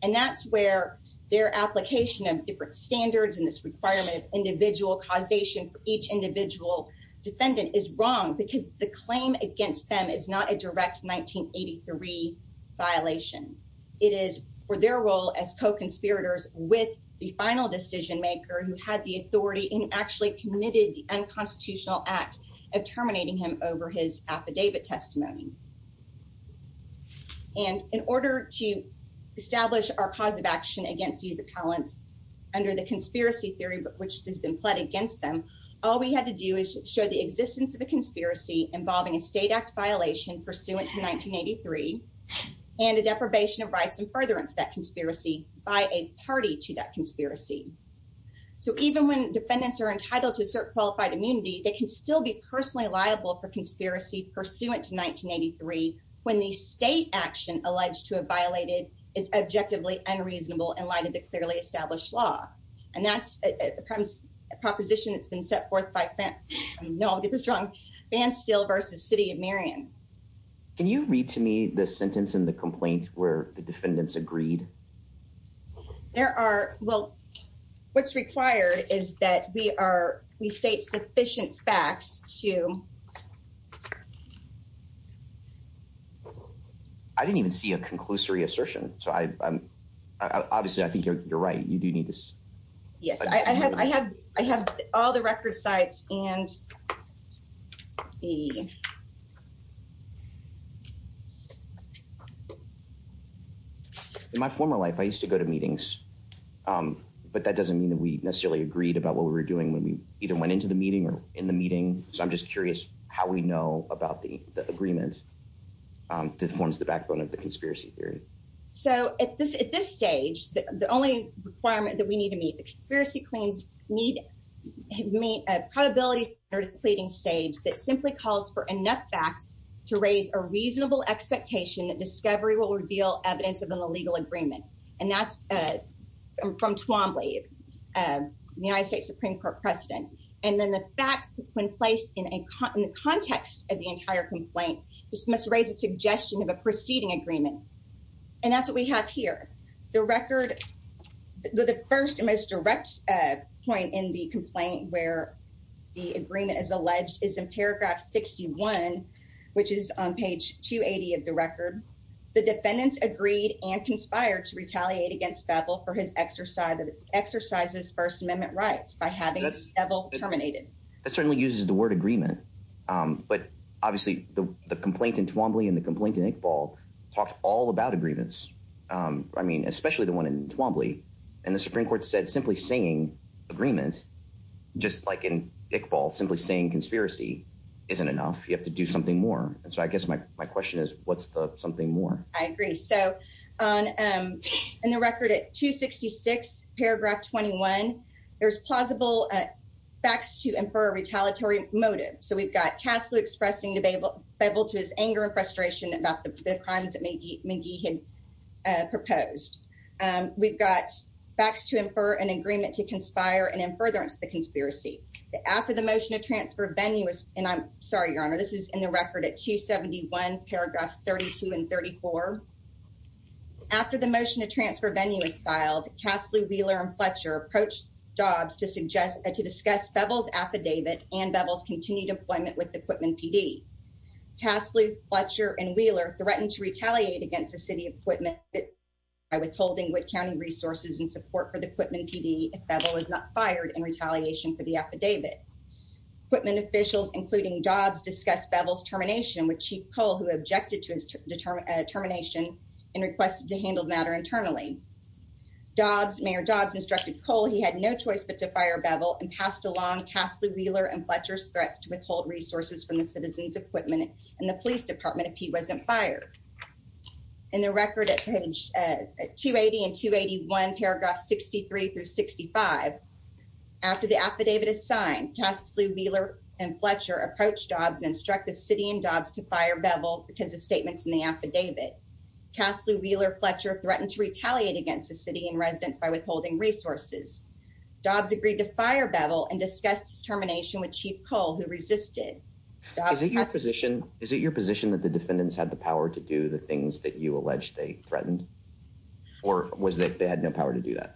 And that's where their application of different standards and this requirement of individual causation for each individual defendant is wrong because the claim against them is not a direct 1983 violation. It is for their role as co-conspirators with the final decision maker who had the authority and actually committed the unconstitutional act of terminating him over his affidavit testimony. And in order to establish our cause of action against these appellants under the conspiracy theory, which has been led against them, all we had to do is show the existence of a conspiracy involving a state act violation pursuant to 1983 and a deprivation of rights and furtherance of that conspiracy by a party to that conspiracy. So even when defendants are entitled to assert qualified immunity, they can still be personally liable for conspiracy pursuant to 1983 when the state action alleged to have violated is objectively unreasonable in light of the clearly established law. And that's a proposition that's been set forth by, no, I'll get this wrong, Van Steele versus City of Marion. Can you read to me the sentence in the complaint where the defendants agreed? There are, well, what's required is that we are, we state sufficient facts to... I didn't even see a conclusory assertion. So obviously I think you're right. You do need to Yes, I have all the record sites and the... In my former life, I used to go to meetings, but that doesn't mean that we necessarily agreed about what we were doing when we either went into the meeting or in the meeting. So I'm just curious how we know about the agreement that forms the backbone of the conspiracy theory. So at this stage, the only requirement that we need to meet, the conspiracy claims need to meet a probability or depleting stage that simply calls for enough facts to raise a reasonable expectation that discovery will reveal evidence of an illegal agreement. And that's from Twombly, the United States Supreme Court precedent. And then the facts when placed in the context of the entire complaint just must raise a suggestion of proceeding agreement. And that's what we have here. The record, the first and most direct point in the complaint where the agreement is alleged is in paragraph 61, which is on page 280 of the record. The defendants agreed and conspired to retaliate against Favell for his exercise of his first amendment rights by having Favell terminated. That certainly uses the word agreement. But obviously the complaint in Twombly and the complaint in Iqbal talked all about agreements. I mean, especially the one in Twombly. And the Supreme Court said simply saying agreement, just like in Iqbal, simply saying conspiracy isn't enough. You have to do something more. And so I guess my question is, what's the something more? I agree. So in the record at 266, paragraph 21, there's plausible facts to infer a retaliatory motive. So we've got Kaslu expressing to Favell to his anger and frustration about the crimes that McGee had proposed. We've got facts to infer an agreement to conspire and in furtherance the conspiracy. After the motion to transfer venue was, and I'm sorry, Your Honor, this is in the record at 271, paragraphs 32 and 34. After the motion to transfer venue was filed, Kaslu, Wheeler, and Fletcher approached Dobbs to suggest, to discuss Favell's affidavit and Favell's continued employment with the Quitman PD. Kaslu, Fletcher, and Wheeler threatened to retaliate against the City of Quitman by withholding Wood County resources and support for the Quitman PD if Favell was not fired in retaliation for the affidavit. Quitman officials, including Dobbs, discussed Favell's termination with Chief Cole, who objected to his termination and requested to handle the matter internally. Mayor Dobbs instructed Cole he had no choice but to fire Favell and passed along Kaslu, Wheeler, and Fletcher's threats to withhold resources from the citizens of Quitman and the police department if he wasn't fired. In the record at page 280 and 281, paragraphs 63 through 65, after the affidavit is signed, Kaslu, Wheeler, and Fletcher approach Dobbs and instruct the City and Dobbs to fire Favell because the statements in the affidavit. Kaslu, Wheeler, and Fletcher threatened to retaliate against the City and residents by withholding resources. Dobbs agreed to fire Favell and discussed his termination with Chief Cole, who resisted. Is it your position that the defendants had the power to do the things that you allege they threatened or was that they had power to do that?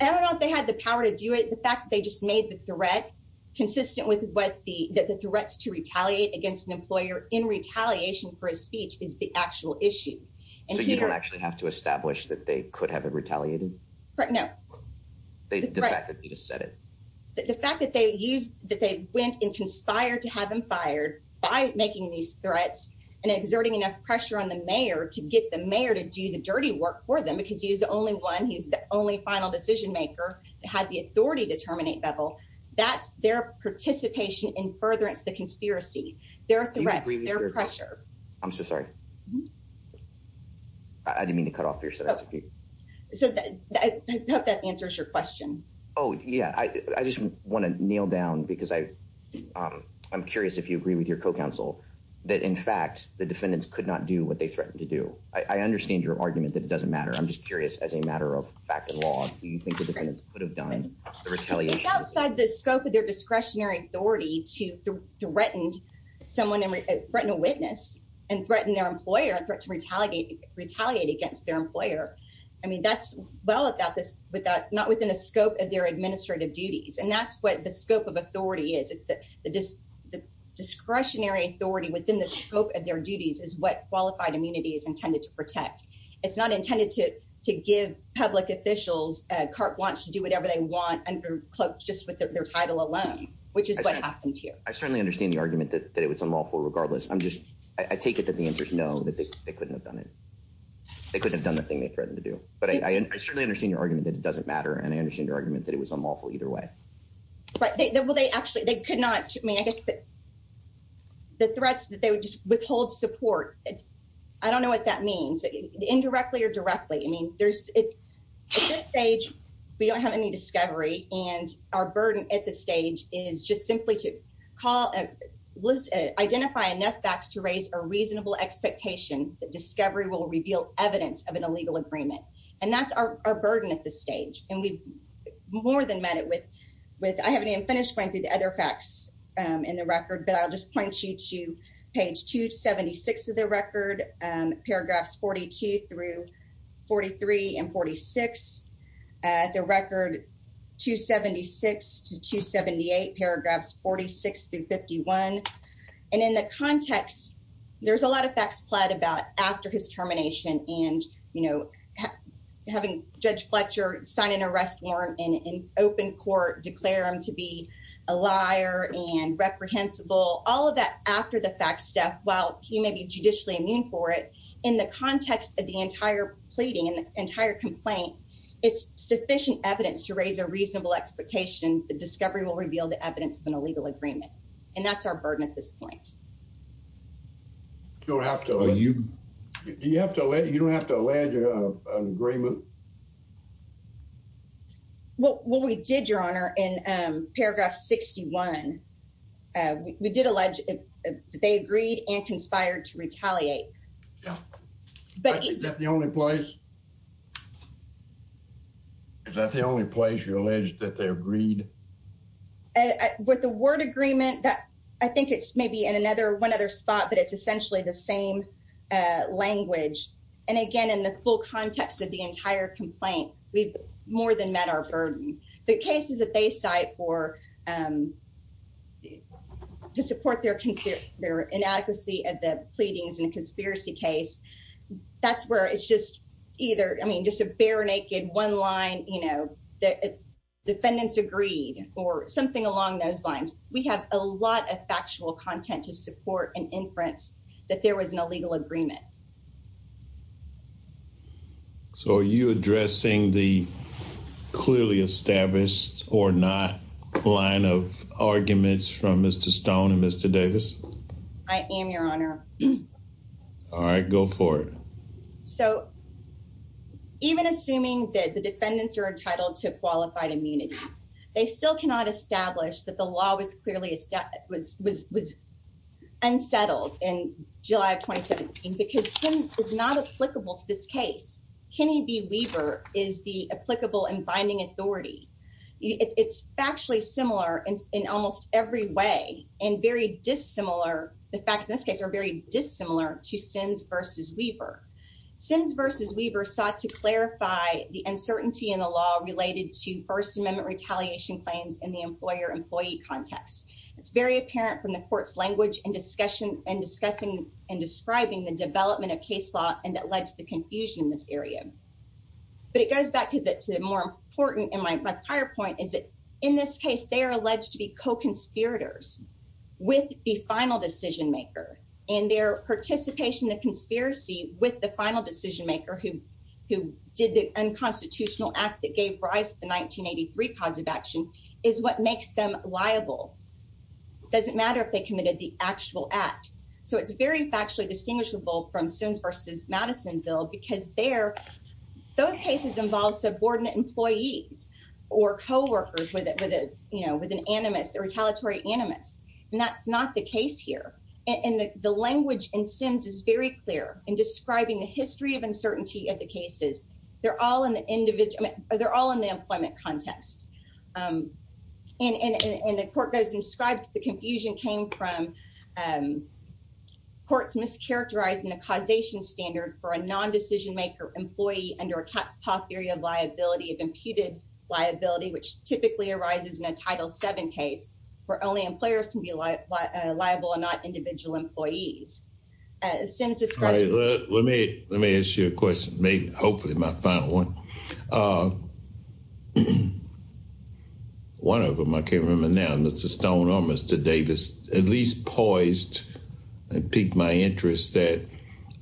I don't know if they had the power to do it. The fact that they just made the threat consistent with what the, that the threats to retaliate against an employer in retaliation for his speech is the actual issue. So you don't actually have to establish that they could have retaliated? Right, no. The fact that you just said it. The fact that they used, that they went and conspired to have him fired by making these threats and exerting enough pressure on the he's the only final decision maker to have the authority to terminate Favell. That's their participation in furtherance the conspiracy, their threats, their pressure. I'm so sorry. I didn't mean to cut off your set of. So I hope that answers your question. Oh yeah, I just want to kneel down because I'm curious if you agree with your co-counsel that in fact the defendants could not do what they threatened to do. I understand your argument that it doesn't matter. I'm just curious as a matter of fact and law, do you think the defendants could have done the retaliation? It's outside the scope of their discretionary authority to threaten someone and threaten a witness and threaten their employer, a threat to retaliate, retaliate against their employer. I mean, that's well without this, without, not within the scope of their administrative duties. And that's what the scope of authority is. It's the discretionary authority within the It's not intended to give public officials, CARP wants to do whatever they want under cloaks just with their title alone, which is what happened here. I certainly understand the argument that it was unlawful regardless. I'm just, I take it that the answers no, that they couldn't have done it. They couldn't have done the thing they threatened to do, but I certainly understand your argument that it doesn't matter. And I understand your argument that it was unlawful either way. Right. Well, they actually, they could not, I mean, I guess that the threats that they would just withhold support. I don't know what that means indirectly or directly. I mean, there's at this stage, we don't have any discovery and our burden at this stage is just simply to call, identify enough facts to raise a reasonable expectation that discovery will reveal evidence of an illegal agreement. And that's our burden at this stage. And we've more than met it with, with, I haven't even finished going through the other facts in the record, but I'll just point you to page 276 of the record, paragraphs 42 through 43 and 46 at the record, 276 to 278 paragraphs, 46 through 51. And in the context, there's a lot of facts fled about after his termination and, you know, having judge Fletcher sign an arrest warrant and open court, declare him to be a liar and reprehensible all of that after the fact, Steph, while he may be judicially immune for it in the context of the entire pleading and the entire complaint, it's sufficient evidence to raise a reasonable expectation. The discovery will reveal the evidence of an illegal agreement. And that's our burden at this point. You don't have to, you, you have to let, you don't have to land an agreement. What, what we did your honor in paragraph 61, we did allege they agreed and conspired to retaliate. Yeah. But is that the only place, is that the only place you allege that they agreed? With the word agreement that I think it's maybe in another one other spot, but it's essentially the same language. And again, in the full context of the entire complaint, we've more than met our burden. The cases that they cite for, to support their, their inadequacy at the pleadings in a conspiracy case, that's where it's just either, I mean, just a bare naked one line, you know, the defendants agreed or something along those lines. We have a lot of factual content to support an inference that there was an illegal agreement. So are you addressing the clearly established or not line of arguments from Mr. Stone and Mr. Davis? I am your honor. All right, go for it. So even assuming that the defendants are entitled to qualified immunity, they still cannot establish that the law was clearly, was unsettled in July of 2017 because Sims is not applicable to this case. Kenny B. Weaver is the applicable and binding authority. It's factually similar in almost every way and very dissimilar. The facts in this case are very dissimilar to Sims versus Weaver. Sims versus Weaver sought to clarify the uncertainty in the law related to first amendment retaliation claims in the employer employee context. It's very apparent from the court's language and discussion and discussing and describing the development of case law and that led to the confusion in this area. But it goes back to the, to the more important in my, my prior point is that in this case, they are alleged to be co-conspirators with the final decision maker and their participation in the conspiracy with the final decision maker who, who did the unconstitutional act that gave rise to the 1983 positive action is what makes them liable. Doesn't matter if they committed the actual act. So it's very factually distinguishable from Sims versus Madisonville because there, those cases involve subordinate employees or coworkers with a, with a, you know, with an animus or retaliatory animus. And that's not the case here. And the language in Sims is very clear in describing the history of uncertainty of the cases. They're all in the individual, they're all in the employment context. And, and, and the court goes and describes the confusion came from courts mischaracterizing the causation standard for a non-decision maker employee under a cat's paw theory of liability of imputed liability, which typically arises in a title seven case where only employers can be liable and not individual employees. Sims describes Let me ask you a question, hopefully my final one. One of them, I can't remember now, Mr. Stone or Mr. Davis, at least poised and piqued my interest that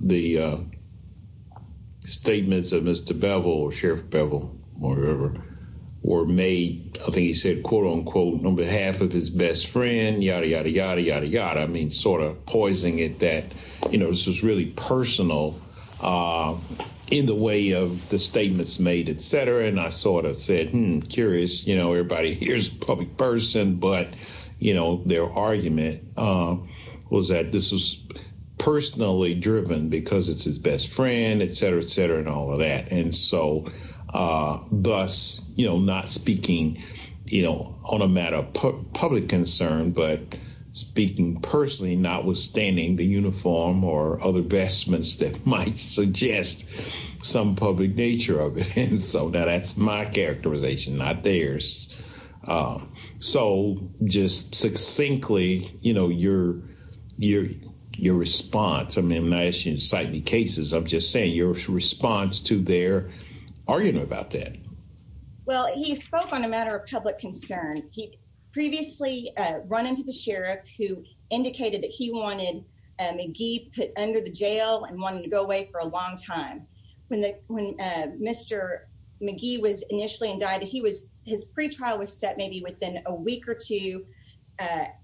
the statements of Mr. Bevel or Sheriff Bevel or whoever were made, I think he said, quote unquote, on behalf of his best friend, yada, yada, yada, yada, yada. I mean, sort of poising it that, you know, this was really personal in the way of the statements made, et cetera. And I sort of said, hmm, curious, you know, everybody here's a public person, but you know, their argument was that this was personally driven because it's his best friend, et cetera, et cetera, and all of that. And so thus, you know, not speaking, you know, on a matter of public concern, but speaking personally, notwithstanding the uniform or other vestments that might suggest some public nature of it. And so now that's my characterization, not theirs. So just succinctly, you know, your response, I mean, when I ask you to cite the cases, I'm just saying your response to their argument about that. Well, he spoke on a matter of public concern. He previously run into the sheriff who indicated that he wanted McGee put under the jail and wanted to go away for a long time. When Mr. McGee was initially indicted, he was, his pretrial was set maybe within a week or two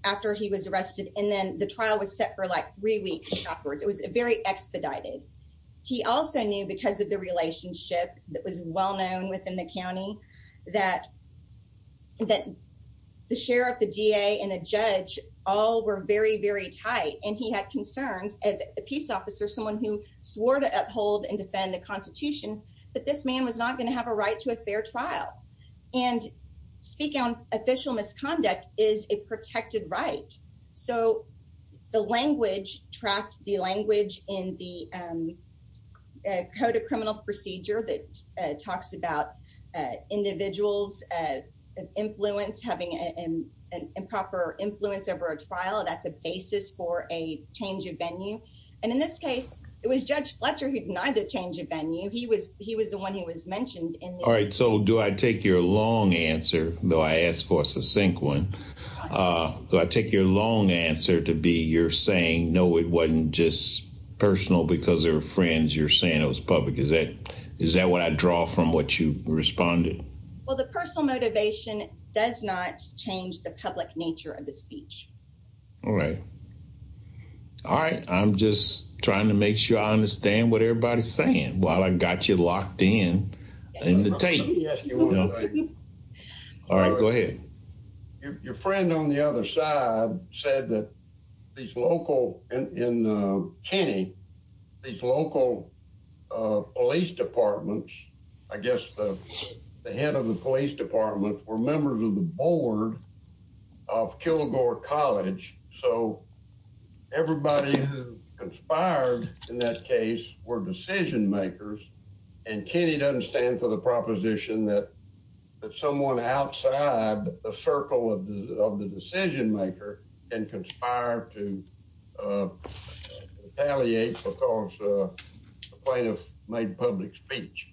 after he was arrested. And then the trial was set for like three weeks afterwards. It was very expedited. He also knew because of the relationship that was well-known within the county that the sheriff, the DA, and the judge all were very, very tight. And he had concerns as a peace officer, someone who swore to uphold and defend the constitution, that this man was not going to have a right to a fair trial. And speaking on official misconduct is a protected right. So the language tracked, the language in the code of criminal procedure that talks about individuals' influence, having an improper influence over a trial, that's a basis for a change of venue. And in this case, it was Judge Fletcher who denied the change of venue. He was, he was the one who was mentioned. All right. So do I take your long answer, though I asked for a succinct one, do I take your long answer to be you're saying, no, it wasn't just personal because they were friends, you're saying it was public. Is that, is that what I draw from what you responded? Well, the personal motivation does not change the public nature of the speech. All right. All right. I'm just trying to make sure I understand what everybody's saying while I got you locked in, in the tape. All right, go ahead. Your friend on the other side said that these local, in Kenny, these local police departments, I guess the head of the police department were members of the board of Kilgore College. So everybody who conspired in that case were decision makers. And Kenny doesn't stand for the proposition that, that someone outside the circle of the decision maker and conspired to retaliate because plaintiff made public speech.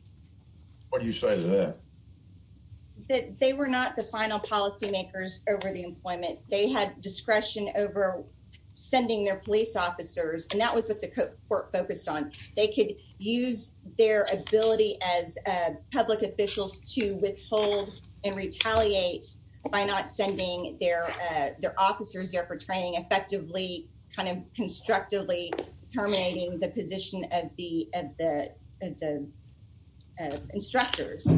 What do you say to that? They were not the final policy makers over the employment. They had discretion over sending their police officers. And that was what the court focused on. They could use their ability as public officials to withhold and retaliate by not sending their, their officers there for training effectively, kind of constructively terminating the position of the, of the, of the instructors.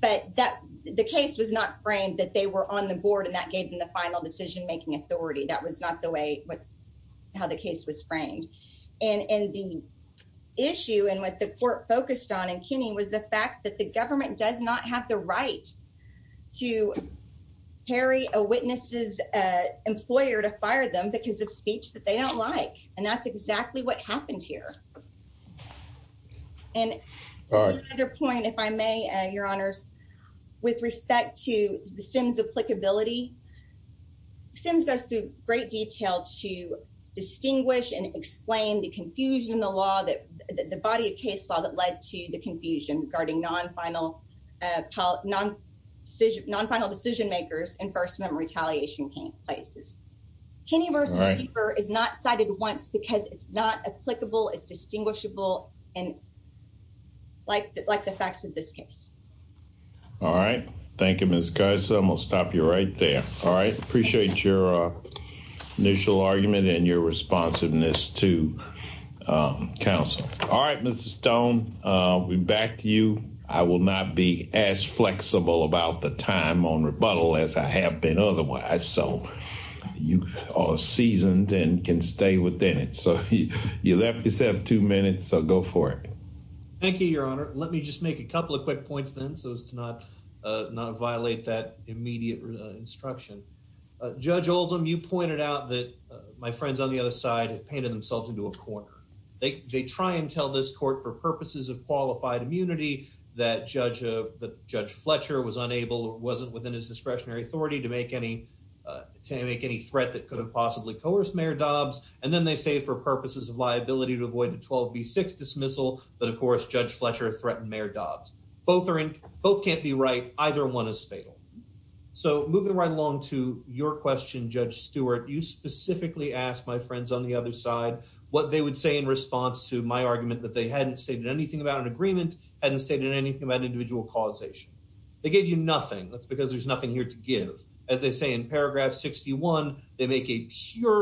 But that the case was not framed that they were on the board and that gave them the final decision making authority. That was not the way, how the case was framed. And, and the issue and what the court focused on in Kenny was the fact that the government does not have the right to parry a witness's employer to fire them because of speech that they don't like. And that's exactly what happened here. And another point, if I may, your honors, with respect to the SIMS applicability, SIMS goes through great detail to distinguish and explain the confusion, the law that the body of case law that led to the confusion regarding non-final decision, non-final decision makers and first amendment retaliation cases. Kenny v. Cooper is not cited once because it's not All right. Thank you, Ms. Cusum. I'll stop you right there. All right. Appreciate your initial argument and your responsiveness to counsel. All right, Mr. Stone, we back to you. I will not be as flexible about the time on rebuttal as I have been otherwise. So you are seasoned and can stay within it. So you left yourself two minutes. So go for it. Thank you, Your Honor. Let me just make a couple of quick points then so as to not violate that immediate instruction. Judge Oldham, you pointed out that my friends on the other side have painted themselves into a corner. They try and tell this court for purposes of qualified immunity that Judge Fletcher was unable or wasn't within his discretionary authority to make any threat that could have possibly coerced Mayor Dobbs. And then they say for purposes of liability to avoid a 12 B six dismissal. But of course, Judge Fletcher threatened Mayor Dobbs. Both are in. Both can't be right. Either one is fatal. So moving right along to your question, Judge Stewart, you specifically asked my friends on the other side what they would say in response to my argument that they hadn't stated anything about an agreement hadn't stated anything about individual causation. They gave you nothing. That's because there's nothing here to give. As they say in pure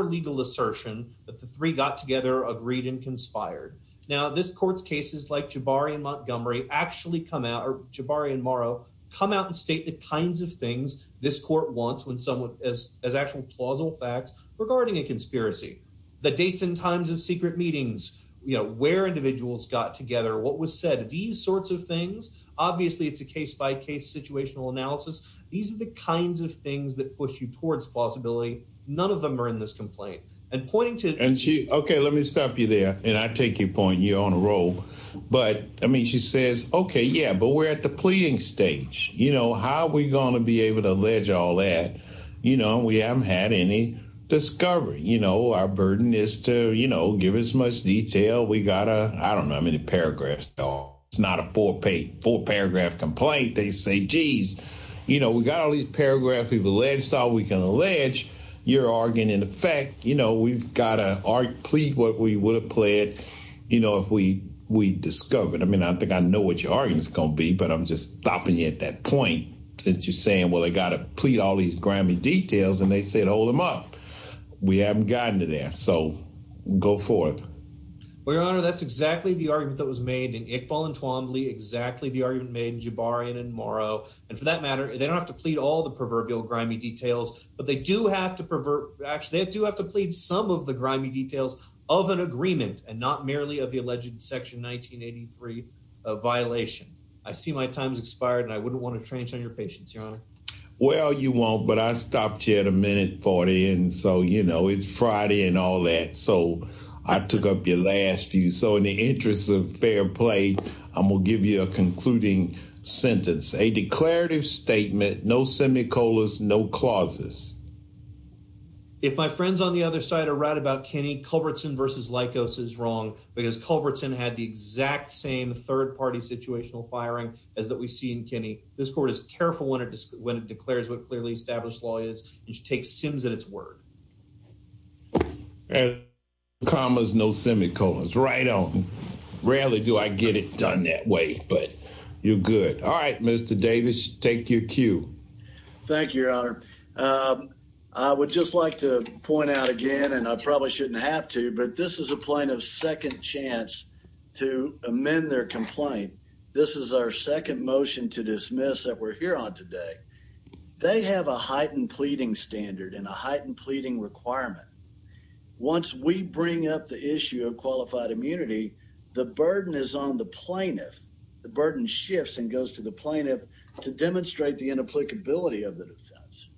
legal assertion that the three got together, agreed and conspired. Now this court's cases like Jabari and Montgomery actually come out or Jabari and Morrow come out and state the kinds of things this court wants when someone as as actual plausible facts regarding a conspiracy, the dates and times of secret meetings, where individuals got together, what was said, these sorts of things. Obviously, it's a case by case situational analysis. These are the kinds of that push you towards plausibility. None of them are in this complaint and pointing to and she OK, let me stop you there and I take your point. You're on a roll. But I mean, she says, OK, yeah, but we're at the pleading stage. You know, how are we going to be able to allege all that? You know, we haven't had any discovery. You know, our burden is to, you know, give as much detail. We got a I don't know how many paragraphs. It's not a four page four paragraph complaint. They say, geez, you know, we got all these paragraphs of alleged style. We can allege your argument. In fact, you know, we've got to plead what we would have pled, you know, if we we discovered. I mean, I think I know what your argument is going to be, but I'm just stopping you at that point since you're saying, well, I got to plead all these grimy details. And they said, hold them up. We haven't gotten to that. So go forth. Well, your honor, that's exactly the argument that was made in Iqbal and Twombly, exactly the argument made in Jabarian and Morrow. And for that matter, they don't have to plead all the proverbial grimy details, but they do have to pervert. Actually, they do have to plead some of the grimy details of an agreement and not merely of the alleged Section 1983 violation. I see my time's expired and I wouldn't want to trench on your patience, your honor. Well, you won't. But I stopped you at a minute 40. And so, you know, it's Friday and all that. So I took up your last few. So in the interest of fair play, I'm going to give you a concluding sentence, a declarative statement, no semicolons, no clauses. If my friends on the other side are right about Kenny Culbertson versus Likos is wrong because Culbertson had the exact same third party situational firing as that we see in Kenny. This court is careful when it declares what clearly established law is. It should take Sims at its word. And commas, no semicolons right on. Rarely do I get it done that way, but you're good. All right, Mr. Davis, take your cue. Thank you, your honor. I would just like to point out again, and I probably shouldn't have to, but this is a plane of second chance to amend their complaint. This is our second motion to dismiss that we're here on today. They have a heightened pleading standard and a heightened pleading requirement. Once we bring up the issue of qualified immunity, the burden is on the plaintiff. The burden shifts and goes to the plaintiff to demonstrate the inapplicability of the defense.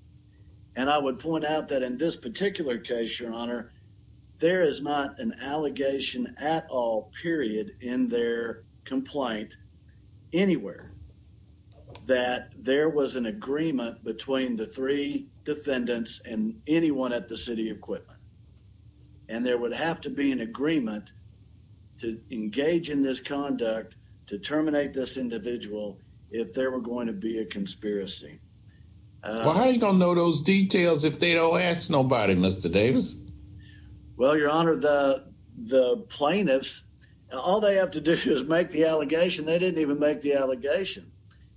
And I would point out that in this particular case, your honor, there is not an allegation at all period in their complaint anywhere that there was an agreement between the three defendants and anyone at the city equipment. And there would have to be an agreement to engage in this conduct to terminate this individual if there were going to be a conspiracy. Well, how are you going to know those details if they don't ask nobody, Mr. Davis? Well, your honor, the plaintiffs, all they have to do is make the allegation. They didn't even make the allegation.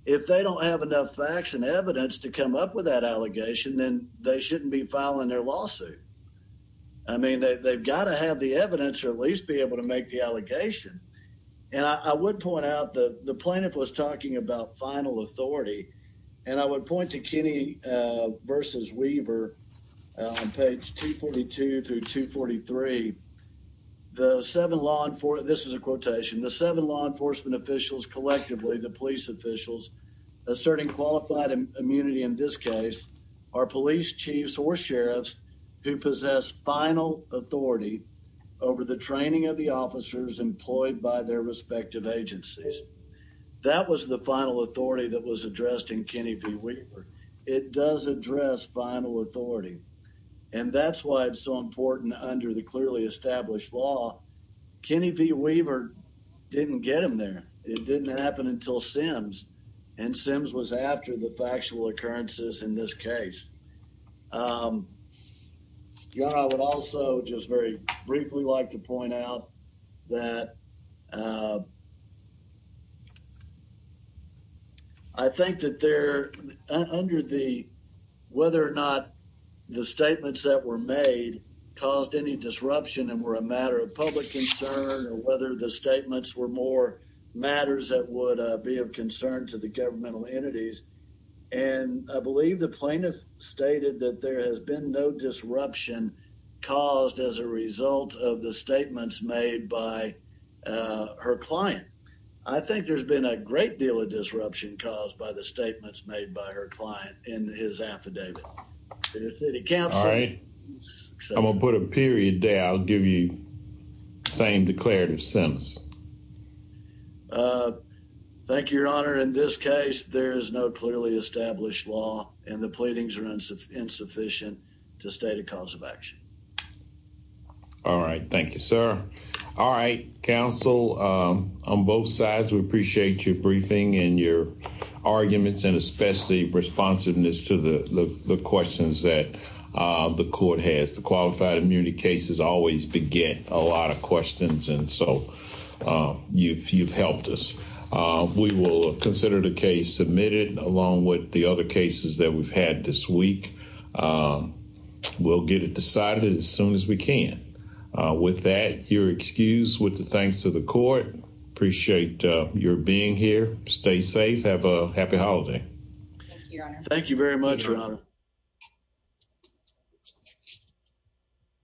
If they don't have enough facts and evidence to come up with that allegation, then they shouldn't be filing their lawsuit. I mean, they've got to have the evidence or at least be able to make the allegation. And I would point out that the plaintiff was talking about final authority. And I would point to Kenny versus Weaver on page 242 through 243. The seven law enforcement, this is a quotation, the seven law enforcement officials collectively, the police officials asserting qualified immunity in this case, are police chiefs or sheriffs who possess final authority over the training of the officers employed by their respective agencies. That was the final authority that was addressed in Kenny v. Weaver. It does address final authority. And that's why it's so important under the clearly established law, Kenny v. Weaver didn't get him there. It didn't happen until Sims. And Sims was after the factual occurrences in this case. Your honor, I would also just very briefly like to point out that I think that they're under the, whether or not the statements that were made caused any disruption and were a matter of public concern or whether the statements were more matters that would be of concern to the governmental entities. And I believe the plaintiff stated that there has been no disruption caused as a result of the statements made by her client. I think there's been a great deal of disruption caused by the statements made by her client in his affidavit. I'm going to put a period there. I'll give you the same declarative sentence. Thank you, your honor. In this case, there is no clearly established law and the pleadings are insufficient to state a cause of action. All right. Thank you, sir. All right. Counsel, on both sides, we appreciate your briefing and your arguments and especially responsiveness to the questions that the court has. The qualified immunity cases always begin a lot of questions. And so you've helped us. We will consider the cases that we've had this week. We'll get it decided as soon as we can. With that, you're excused with the thanks to the court. Appreciate your being here. Stay safe. Have a happy holiday.